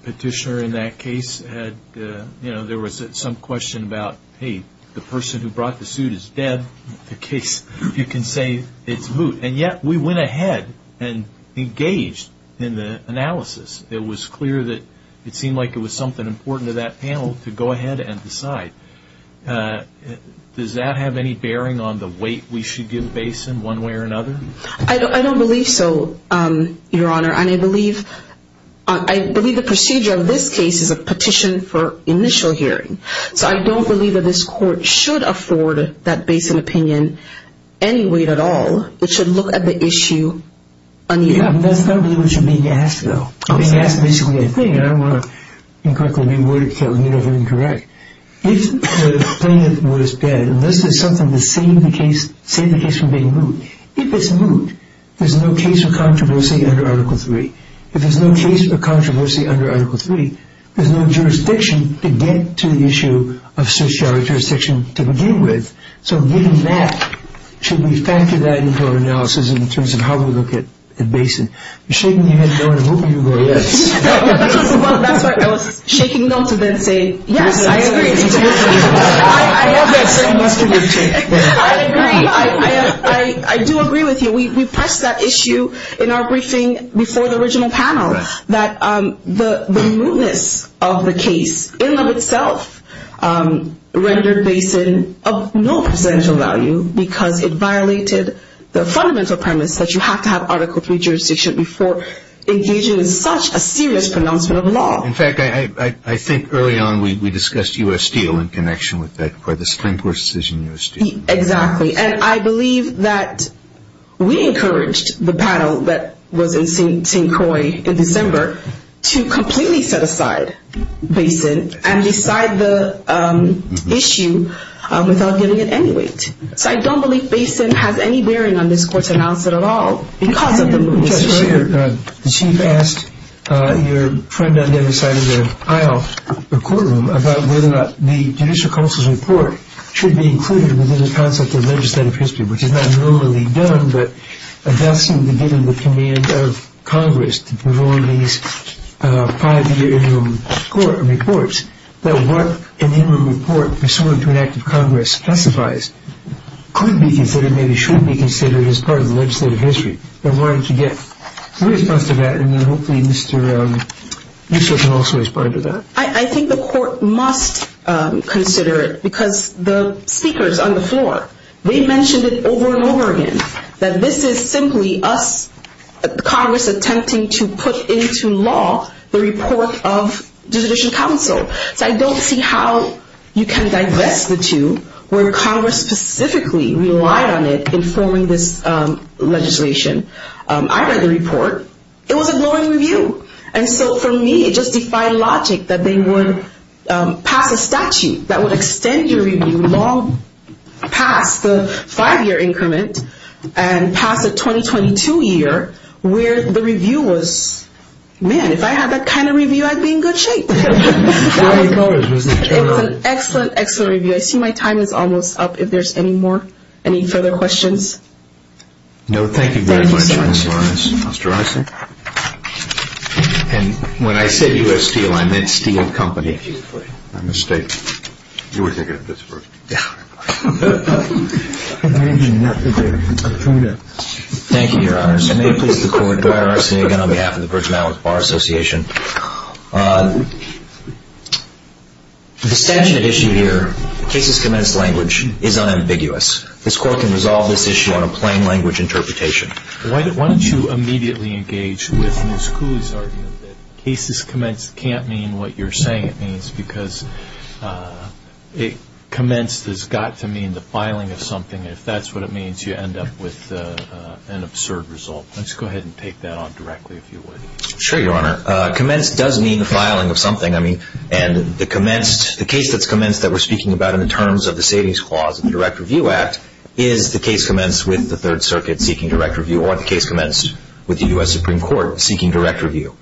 petitioner in that case had, you know, there was some question about, hey, the person who brought the suit is dead. The case, you can say it's moot. And yet we went ahead and engaged in the analysis. It was clear that it seemed like it was something important to that panel to go ahead and decide. Does that have any bearing on the weight we should give Basin one way or another? I don't believe so, Your Honor, and I believe the procedure of this case is a petition for initial hearing. So I don't believe that this court should afford that Basin opinion any weight at all. It should look at the issue unevenly. Yeah, that's not really what you're being asked, though. You're being asked basically a thing, and I don't want to incorrectly reword it, so let me know if I'm incorrect. If the plaintiff was dead, unless there's something to save the case from being moot, if it's moot, there's no case for controversy under Article III. If there's no case for controversy under Article III, there's no jurisdiction to get to the issue of social jurisdiction to begin with. So given that, should we factor that into our analysis in terms of how we look at Basin? You're shaking your head no, and I'm hoping you'll go, yes. Well, that's why I was shaking them to then say, yes, I agree. I love that same mustard you're taking. I agree. I do agree with you. We pressed that issue in our briefing before the original panel, that the mootness of the case in and of itself rendered Basin of no potential value because it violated the fundamental premise that you have to have Article III jurisdiction before engaging in such a serious pronouncement of law. In fact, I think early on we discussed U.S. Steel in connection with that, where the Supreme Court's decision in U.S. Steel. Exactly, and I believe that we encouraged the panel that was in St. Croix in December to completely set aside Basin and decide the issue without giving it any weight. So I don't believe Basin has any bearing on this court's announcement at all because of the mootness. Just earlier, the Chief asked your friend on the other side of the aisle, the courtroom, about whether or not the Judicial Council's report should be included within the concept of legislative history, which is not normally done, but does seem to be given the command of Congress to move on these five-year interim reports, that what an interim report pursuant to an act of Congress specifies could be considered, maybe should be considered, as part of the legislative history. Why don't you get your response to that, and then hopefully Mr. Nusselt can also respond to that. I think the court must consider it because the speakers on the floor, they mentioned it over and over again, that this is simply us, Congress attempting to put into law the report of the Judicial Council. So I don't see how you can divest the two where Congress specifically relied on it in forming this legislation. I read the report. It was a glowing review. And so for me, it just defied logic that they would pass a statute that would extend your review past the five-year increment and past the 2022 year where the review was, man, if I had that kind of review, I'd be in good shape. It's an excellent, excellent review. I see my time is almost up. If there's any more, any further questions? No, thank you very much, Ms. Lawrence. And when I said U.S. Steel, I meant Steel Company. My mistake. You were thinking of Pittsburgh. Thank you, Your Honors. May it please the Court, I'm Eric Senegan on behalf of the Virgin Islands Bar Association. The statute at issue here, cases commenced language, is unambiguous. This Court can resolve this issue on a plain language interpretation. Why don't you immediately engage with Ms. Kuh's argument that cases commenced can't mean what you're saying it means because it commenced has got to mean the filing of something. If that's what it means, you end up with an absurd result. Let's go ahead and take that on directly, if you would. Sure, Your Honor. Commenced does mean the filing of something. I mean, and the case that's commenced that we're speaking about in terms of the savings clause in the Direct Review Act is the case commenced with the Third Circuit seeking Direct Review or the case commenced with the U.S. Supreme Court seeking Direct Review.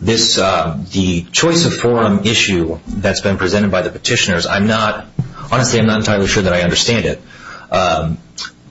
The choice of forum issue that's been presented by the petitioners, I'm not, honestly, I'm not entirely sure that I understand it.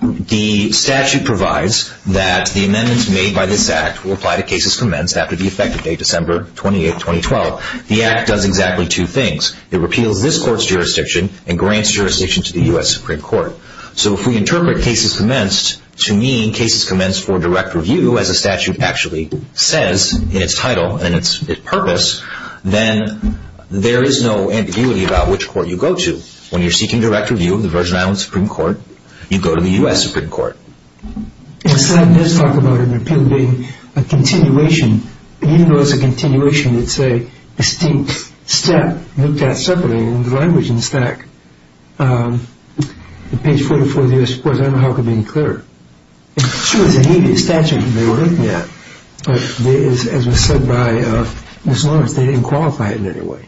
The statute provides that the amendments made by this Act will apply to cases commenced after the effective date, December 28, 2012. The Act does exactly two things. It repeals this court's jurisdiction and grants jurisdiction to the U.S. Supreme Court. So if we interpret cases commenced to mean cases commenced for direct review, as the statute actually says in its title and its purpose, then there is no ambiguity about which court you go to. When you're seeking direct review of the Virgin Islands Supreme Court, you go to the U.S. Supreme Court. In fact, it does talk about an appeal being a continuation. Even though it's a continuation, it's a distinct step looked at separately in the language in the stack. On page 44 of the U.S. Supreme Court, I don't know how it could be any clearer. It's true it's an immediate statute and they were looking at it. But as was said by Ms. Lawrence, they didn't qualify it in any way.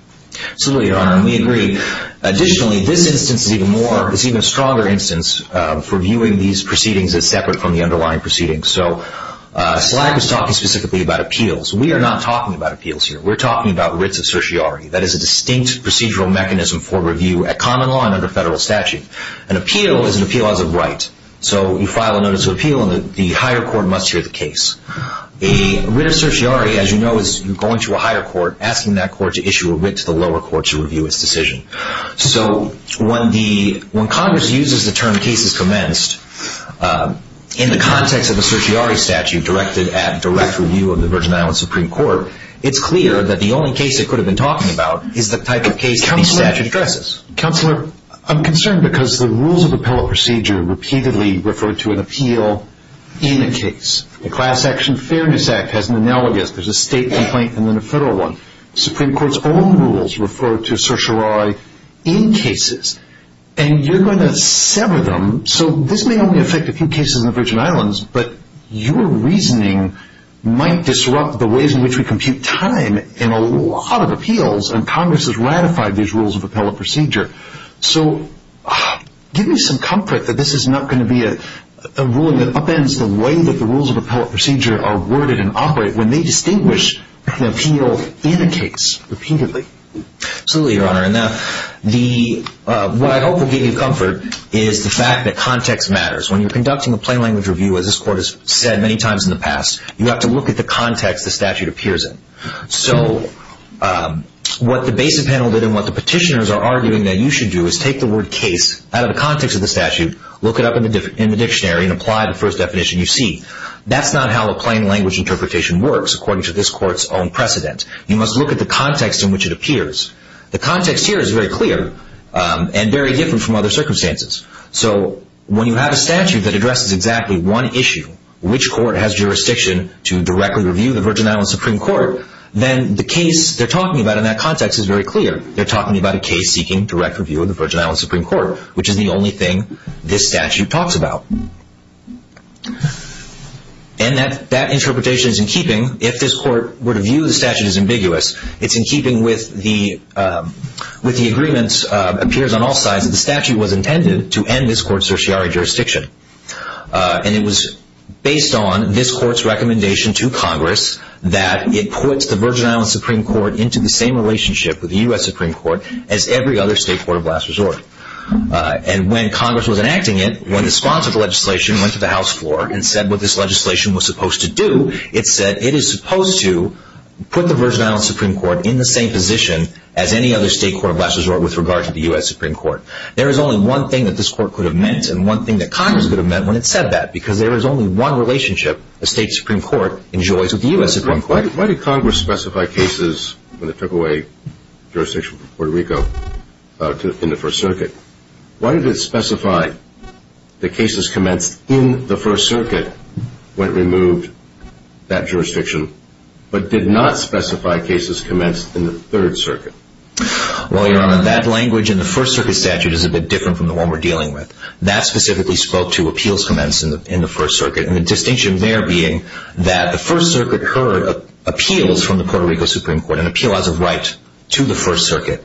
Absolutely, Your Honor, and we agree. Additionally, this instance is even a stronger instance for viewing these proceedings as separate from the underlying proceedings. So SLAC is talking specifically about appeals. We are not talking about appeals here. We're talking about writs of certiorari. That is a distinct procedural mechanism for review at common law and under federal statute. An appeal is an appeal as of right. So you file a notice of appeal and the higher court must hear the case. A writ of certiorari, as you know, is going to a higher court asking that court to issue a writ to the lower court to review its decision. So when Congress uses the term cases commenced in the context of a certiorari statute directed at direct review of the Virgin Islands Supreme Court, it's clear that the only case it could have been talking about is the type of case that the statute addresses. Counselor, I'm concerned because the rules of appellate procedure repeatedly refer to an appeal in a case. The Class Action Fairness Act has an analogous. There's a state complaint and then a federal one. Supreme Court's own rules refer to certiorari in cases, and you're going to sever them. So this may only affect a few cases in the Virgin Islands, but your reasoning might disrupt the ways in which we compute time in a lot of appeals, and Congress has ratified these rules of appellate procedure. So give me some comfort that this is not going to be a ruling that upends the way that the rules of appellate procedure are worded and operate when they distinguish an appeal in a case repeatedly. Absolutely, Your Honor. And what I hope will give you comfort is the fact that context matters. When you're conducting a plain language review, as this court has said many times in the past, you have to look at the context the statute appears in. So what the basis panel did and what the petitioners are arguing that you should do is take the word case out of the context of the statute, look it up in the dictionary, and apply the first definition you see. That's not how a plain language interpretation works, according to this court's own precedent. You must look at the context in which it appears. The context here is very clear and very different from other circumstances. So when you have a statute that addresses exactly one issue, which court has jurisdiction to directly review the Virgin Islands Supreme Court, then the case they're talking about in that context is very clear. They're talking about a case seeking direct review of the Virgin Islands Supreme Court, which is the only thing this statute talks about. And that interpretation is in keeping if this court were to view the statute as ambiguous. It's in keeping with the agreement, appears on all sides, that the statute was intended to end this court's certiorari jurisdiction. And it was based on this court's recommendation to Congress that it puts the Virgin Islands Supreme Court into the same relationship with the U.S. Supreme Court as every other state court of last resort. And when Congress was enacting it, when the sponsor of the legislation went to the House floor and said what this legislation was supposed to do, it said it is supposed to put the Virgin Islands Supreme Court in the same position as any other state court of last resort with regard to the U.S. Supreme Court. There is only one thing that this court could have meant and one thing that Congress could have meant when it said that, because there is only one relationship a state Supreme Court enjoys with the U.S. Supreme Court. Why did Congress specify cases when it took away jurisdiction from Puerto Rico in the First Circuit? Why did it specify the cases commenced in the First Circuit when it removed that jurisdiction but did not specify cases commenced in the Third Circuit? Well, Your Honor, that language in the First Circuit statute is a bit different from the one we're dealing with. That specifically spoke to appeals commenced in the First Circuit and the distinction there being that the First Circuit heard appeals from the Puerto Rico Supreme Court, an appeal as a right to the First Circuit.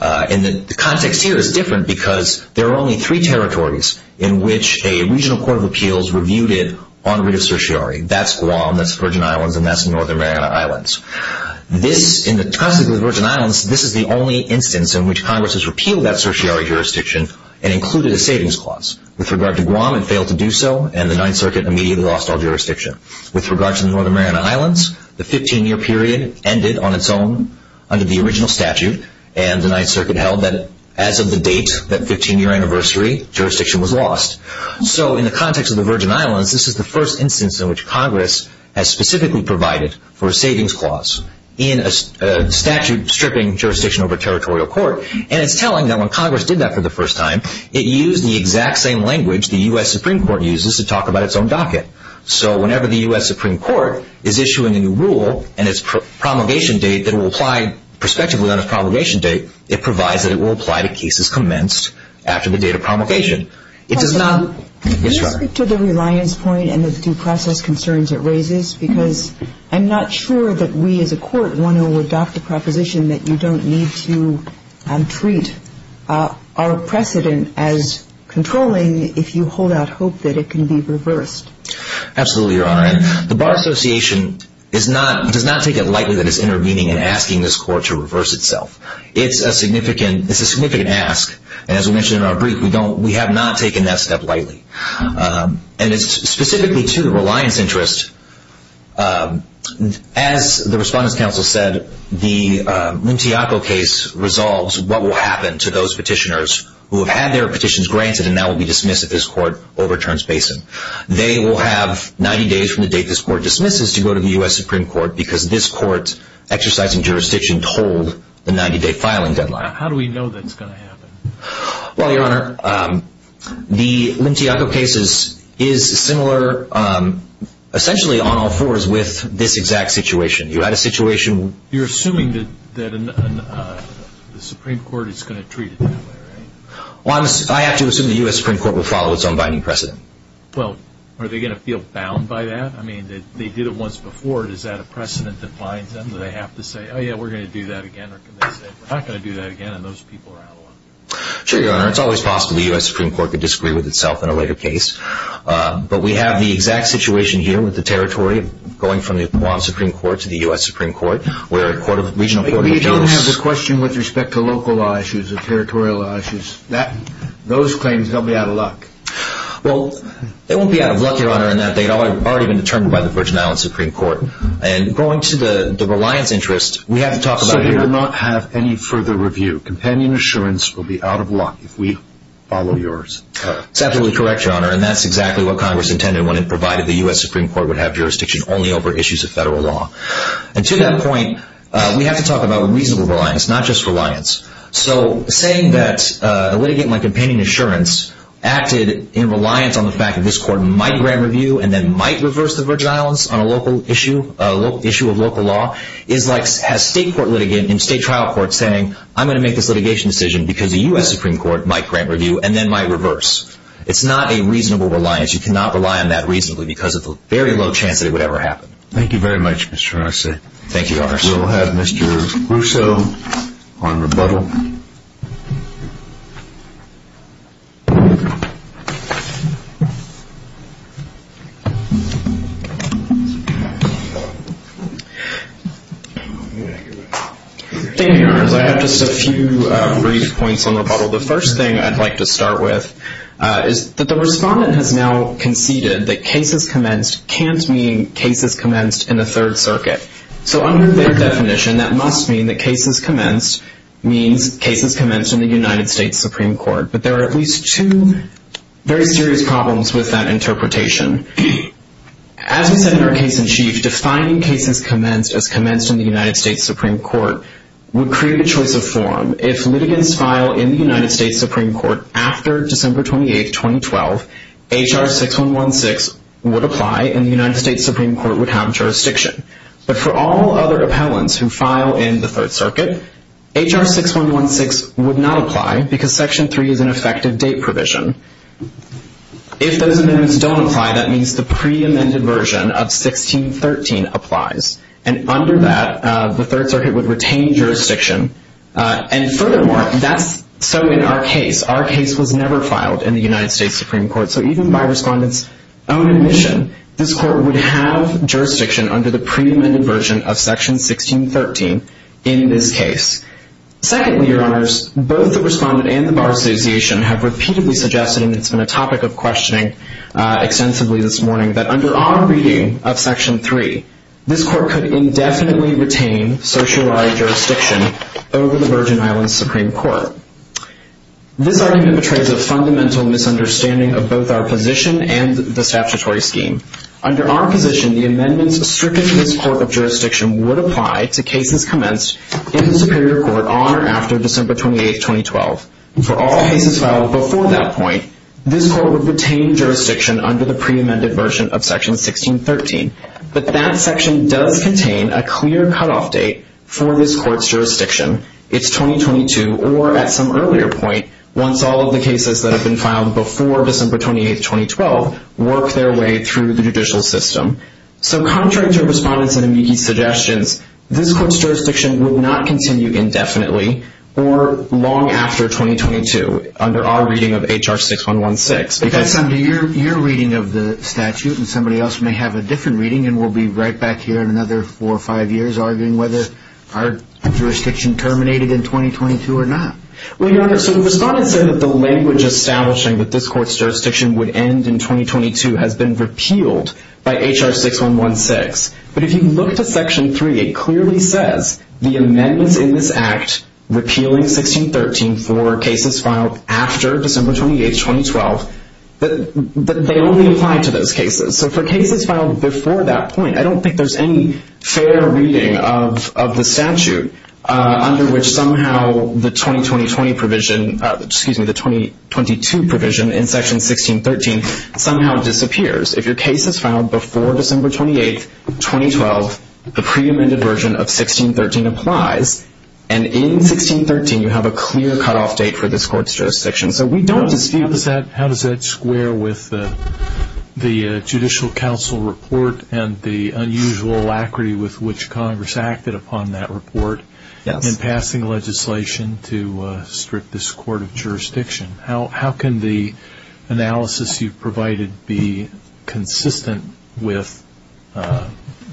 And the context here is different because there are only three territories in which a regional court of appeals reviewed it on writ of certiorari. That's Guam, that's the Virgin Islands, and that's the Northern Mariana Islands. In the context of the Virgin Islands, this is the only instance in which Congress has repealed that certiorari jurisdiction and included a savings clause. With regard to Guam, it failed to do so and the Ninth Circuit immediately lost all jurisdiction. With regard to the Northern Mariana Islands, the 15-year period ended on its own under the original statute and the Ninth Circuit held that as of the date, that 15-year anniversary, jurisdiction was lost. So in the context of the Virgin Islands, this is the first instance in which Congress has specifically provided for a savings clause in a statute stripping jurisdiction over territorial court. And it's telling that when Congress did that for the first time, it used the exact same language the U.S. Supreme Court uses to talk about its own docket. So whenever the U.S. Supreme Court is issuing a new rule and its promulgation date that will apply prospectively on its promulgation date, it provides that it will apply to cases commenced after the date of promulgation. It does not Can you speak to the reliance point and the due process concerns it raises? Because I'm not sure that we as a court want to adopt a proposition that you don't need to treat our precedent as controlling if you hold out hope that it can be reversed. Absolutely, Your Honor. The Bar Association does not take it lightly that it's intervening and asking this court to reverse itself. It's a significant ask. And as we mentioned in our brief, we have not taken that step lightly. And it's specifically to the reliance interest. As the Respondents' Council said, the Muntiaco case resolves what will happen to those petitioners who have had their petitions granted and now will be dismissed if this court overturns Basin. They will have 90 days from the date this court dismisses to go to the U.S. Supreme Court because this court's exercising jurisdiction told the 90-day filing deadline. How do we know that's going to happen? Well, Your Honor, the Muntiaco case is similar essentially on all fours with this exact situation. You had a situation You're assuming that the Supreme Court is going to treat it that way, right? Well, I have to assume the U.S. Supreme Court will follow its own binding precedent. Well, are they going to feel bound by that? I mean, they did it once before. Is that a precedent that binds them? Do they have to say, oh yeah, we're going to do that again? Or can they say, we're not going to do that again, and those people are out of luck? Sure, Your Honor. It's always possible the U.S. Supreme Court could disagree with itself in a later case. But we have the exact situation here with the territory going from the Guam Supreme Court to the U.S. Supreme Court where a regional court of appeals But we don't have the question with respect to local law issues or territorial law issues. Those claims, they'll be out of luck. Well, they won't be out of luck, Your Honor, in that they've already been determined by the Virgin Islands Supreme Court. And going to the reliance interest, we have to talk about They will not have any further review. Companion assurance will be out of luck if we follow yours. That's absolutely correct, Your Honor. And that's exactly what Congress intended when it provided the U.S. Supreme Court would have jurisdiction only over issues of federal law. And to that point, we have to talk about reasonable reliance, not just reliance. So saying that a litigant like Companion Assurance acted in reliance on the fact that this court might grant review and then might reverse the Virgin Islands on a local issue, a local issue of local law, is like a state court litigant in state trial court saying, I'm going to make this litigation decision because the U.S. Supreme Court might grant review and then might reverse. It's not a reasonable reliance. You cannot rely on that reasonably because of the very low chance that it would ever happen. Thank you very much, Mr. Arce. Thank you, Your Honor. We'll have Mr. Russo on rebuttal. Thank you, Your Honors. I have just a few brief points on rebuttal. The first thing I'd like to start with is that the respondent has now conceded that cases commenced can't mean cases commenced in the Third Circuit. So under their definition, that must mean that cases commenced means cases commenced in the United States Supreme Court. But there are at least two very serious problems with that interpretation. As we said in our case in chief, defining cases commenced as commenced in the United States Supreme Court would create a choice of form. If litigants file in the United States Supreme Court after December 28, 2012, H.R. 6116 would apply and the United States Supreme Court would have jurisdiction. But for all other appellants who file in the Third Circuit, H.R. 6116 would not apply because Section 3 is an effective date provision. If those amendments don't apply, that means the pre-amended version of Section 6113 applies. And under that, the Third Circuit would retain jurisdiction. And furthermore, that's so in our case. Our case was never filed in the United States Supreme Court. So even by respondent's own admission, this court would have jurisdiction under the pre-amended version of Section 6113 in this case. Secondly, Your Honors, both the respondent and the Bar Association have repeatedly suggested, and it's been a topic of questioning extensively this morning, that under our reading of Section 3, this court could indefinitely retain certiorari jurisdiction over the Virgin Islands Supreme Court. This argument betrays a fundamental misunderstanding of both our position and the statutory scheme. Under our position, the amendments stricter to this court of jurisdiction would apply to cases commenced in the Superior Court on or after December 28, 2012. For all cases filed before that point, this court would retain jurisdiction under the pre-amended version of Section 6113. But that section does contain a clear cutoff date for this court's jurisdiction. It's 2022, or at some earlier point, once all of the cases that have been filed before December 28, 2012, work their way through the judicial system. So contrary to respondent's and amici's suggestions, this court's jurisdiction would not continue indefinitely or long after 2022 under our reading of HR 6116. But that's under your reading of the statute, and somebody else may have a different reading, and we'll be right back here in another four or five years arguing whether our jurisdiction terminated in 2022 or not. Well, Your Honor, so the respondent said that the language establishing that this court's jurisdiction would end in 2022 has been repealed by HR 6116. But if you look to Section 3, it clearly says the amendments in this Act repealing 1613 for cases filed after December 28, 2012, that they only apply to those cases. So for cases filed before that point, I don't think there's any fair reading of the statute under which somehow the 2022 provision in Section 1613 somehow disappears. If your case is filed before December 28, 2012, the pre-amended version of 1613 applies. And in 1613, you have a clear cutoff date for this court's jurisdiction. How does that square with the Judicial Council report and the unusual alacrity with which Congress acted upon that report in passing legislation to strip this court of jurisdiction? How can the analysis you've provided be consistent with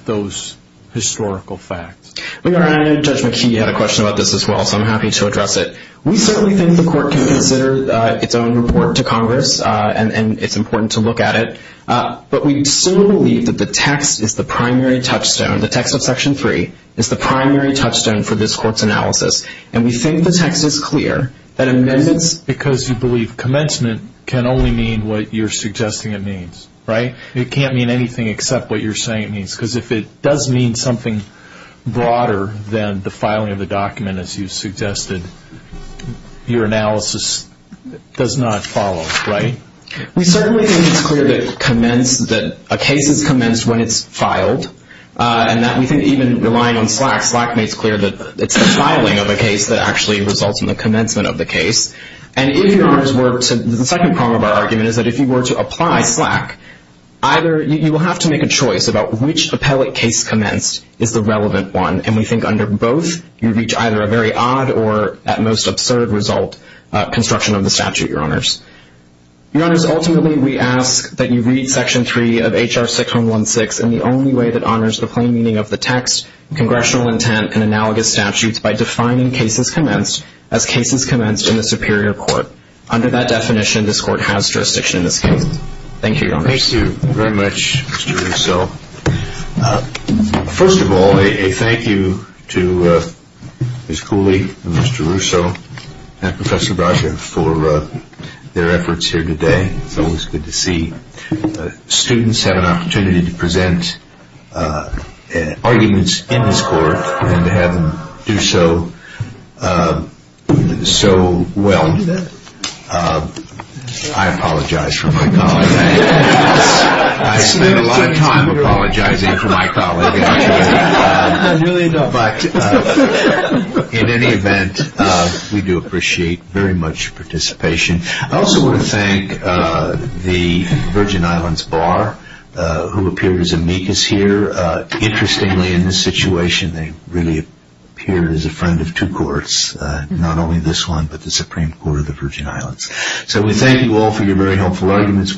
those historical facts? Your Honor, I know Judge McKee had a question about this as well, so I'm happy to address it. We certainly think the court can consider its own report to Congress, and it's important to look at it. But we still believe that the text is the primary touchstone. The text of Section 3 is the primary touchstone for this court's analysis. And we think the text is clear that amendments… Because you believe commencement can only mean what you're suggesting it means, right? It can't mean anything except what you're saying it means. Because if it does mean something broader than the filing of the document, as you suggested, your analysis does not follow, right? We certainly think it's clear that a case is commenced when it's filed. And we think even relying on Slack, Slack makes clear that it's the filing of a case that actually results in the commencement of the case. The second prong of our argument is that if you were to apply Slack, you will have to make a choice about which appellate case commenced is the relevant one. And we think under both, you reach either a very odd or, at most, absurd result construction of the statute, Your Honors. Your Honors, ultimately we ask that you read Section 3 of H.R. 6116 in the only way that honors the plain meaning of the text, congressional intent, and analogous statutes by defining cases commenced as cases commenced in the Superior Court. Under that definition, this Court has jurisdiction in this case. Thank you, Your Honors. Thank you very much, Mr. Russo. First of all, a thank you to Ms. Cooley and Mr. Russo and Professor Braga for their efforts here today. It's always good to see students have an opportunity to present arguments in this Court and to have them do so well. I apologize for my colleague. I spend a lot of time apologizing for my colleague. But in any event, we do appreciate very much your participation. I also want to thank the Virgin Islands Bar who appeared as amicus here. Interestingly, in this situation, they really appeared as a friend of two courts, not only this one but the Supreme Court of the Virgin Islands. So we thank you all for your very helpful arguments.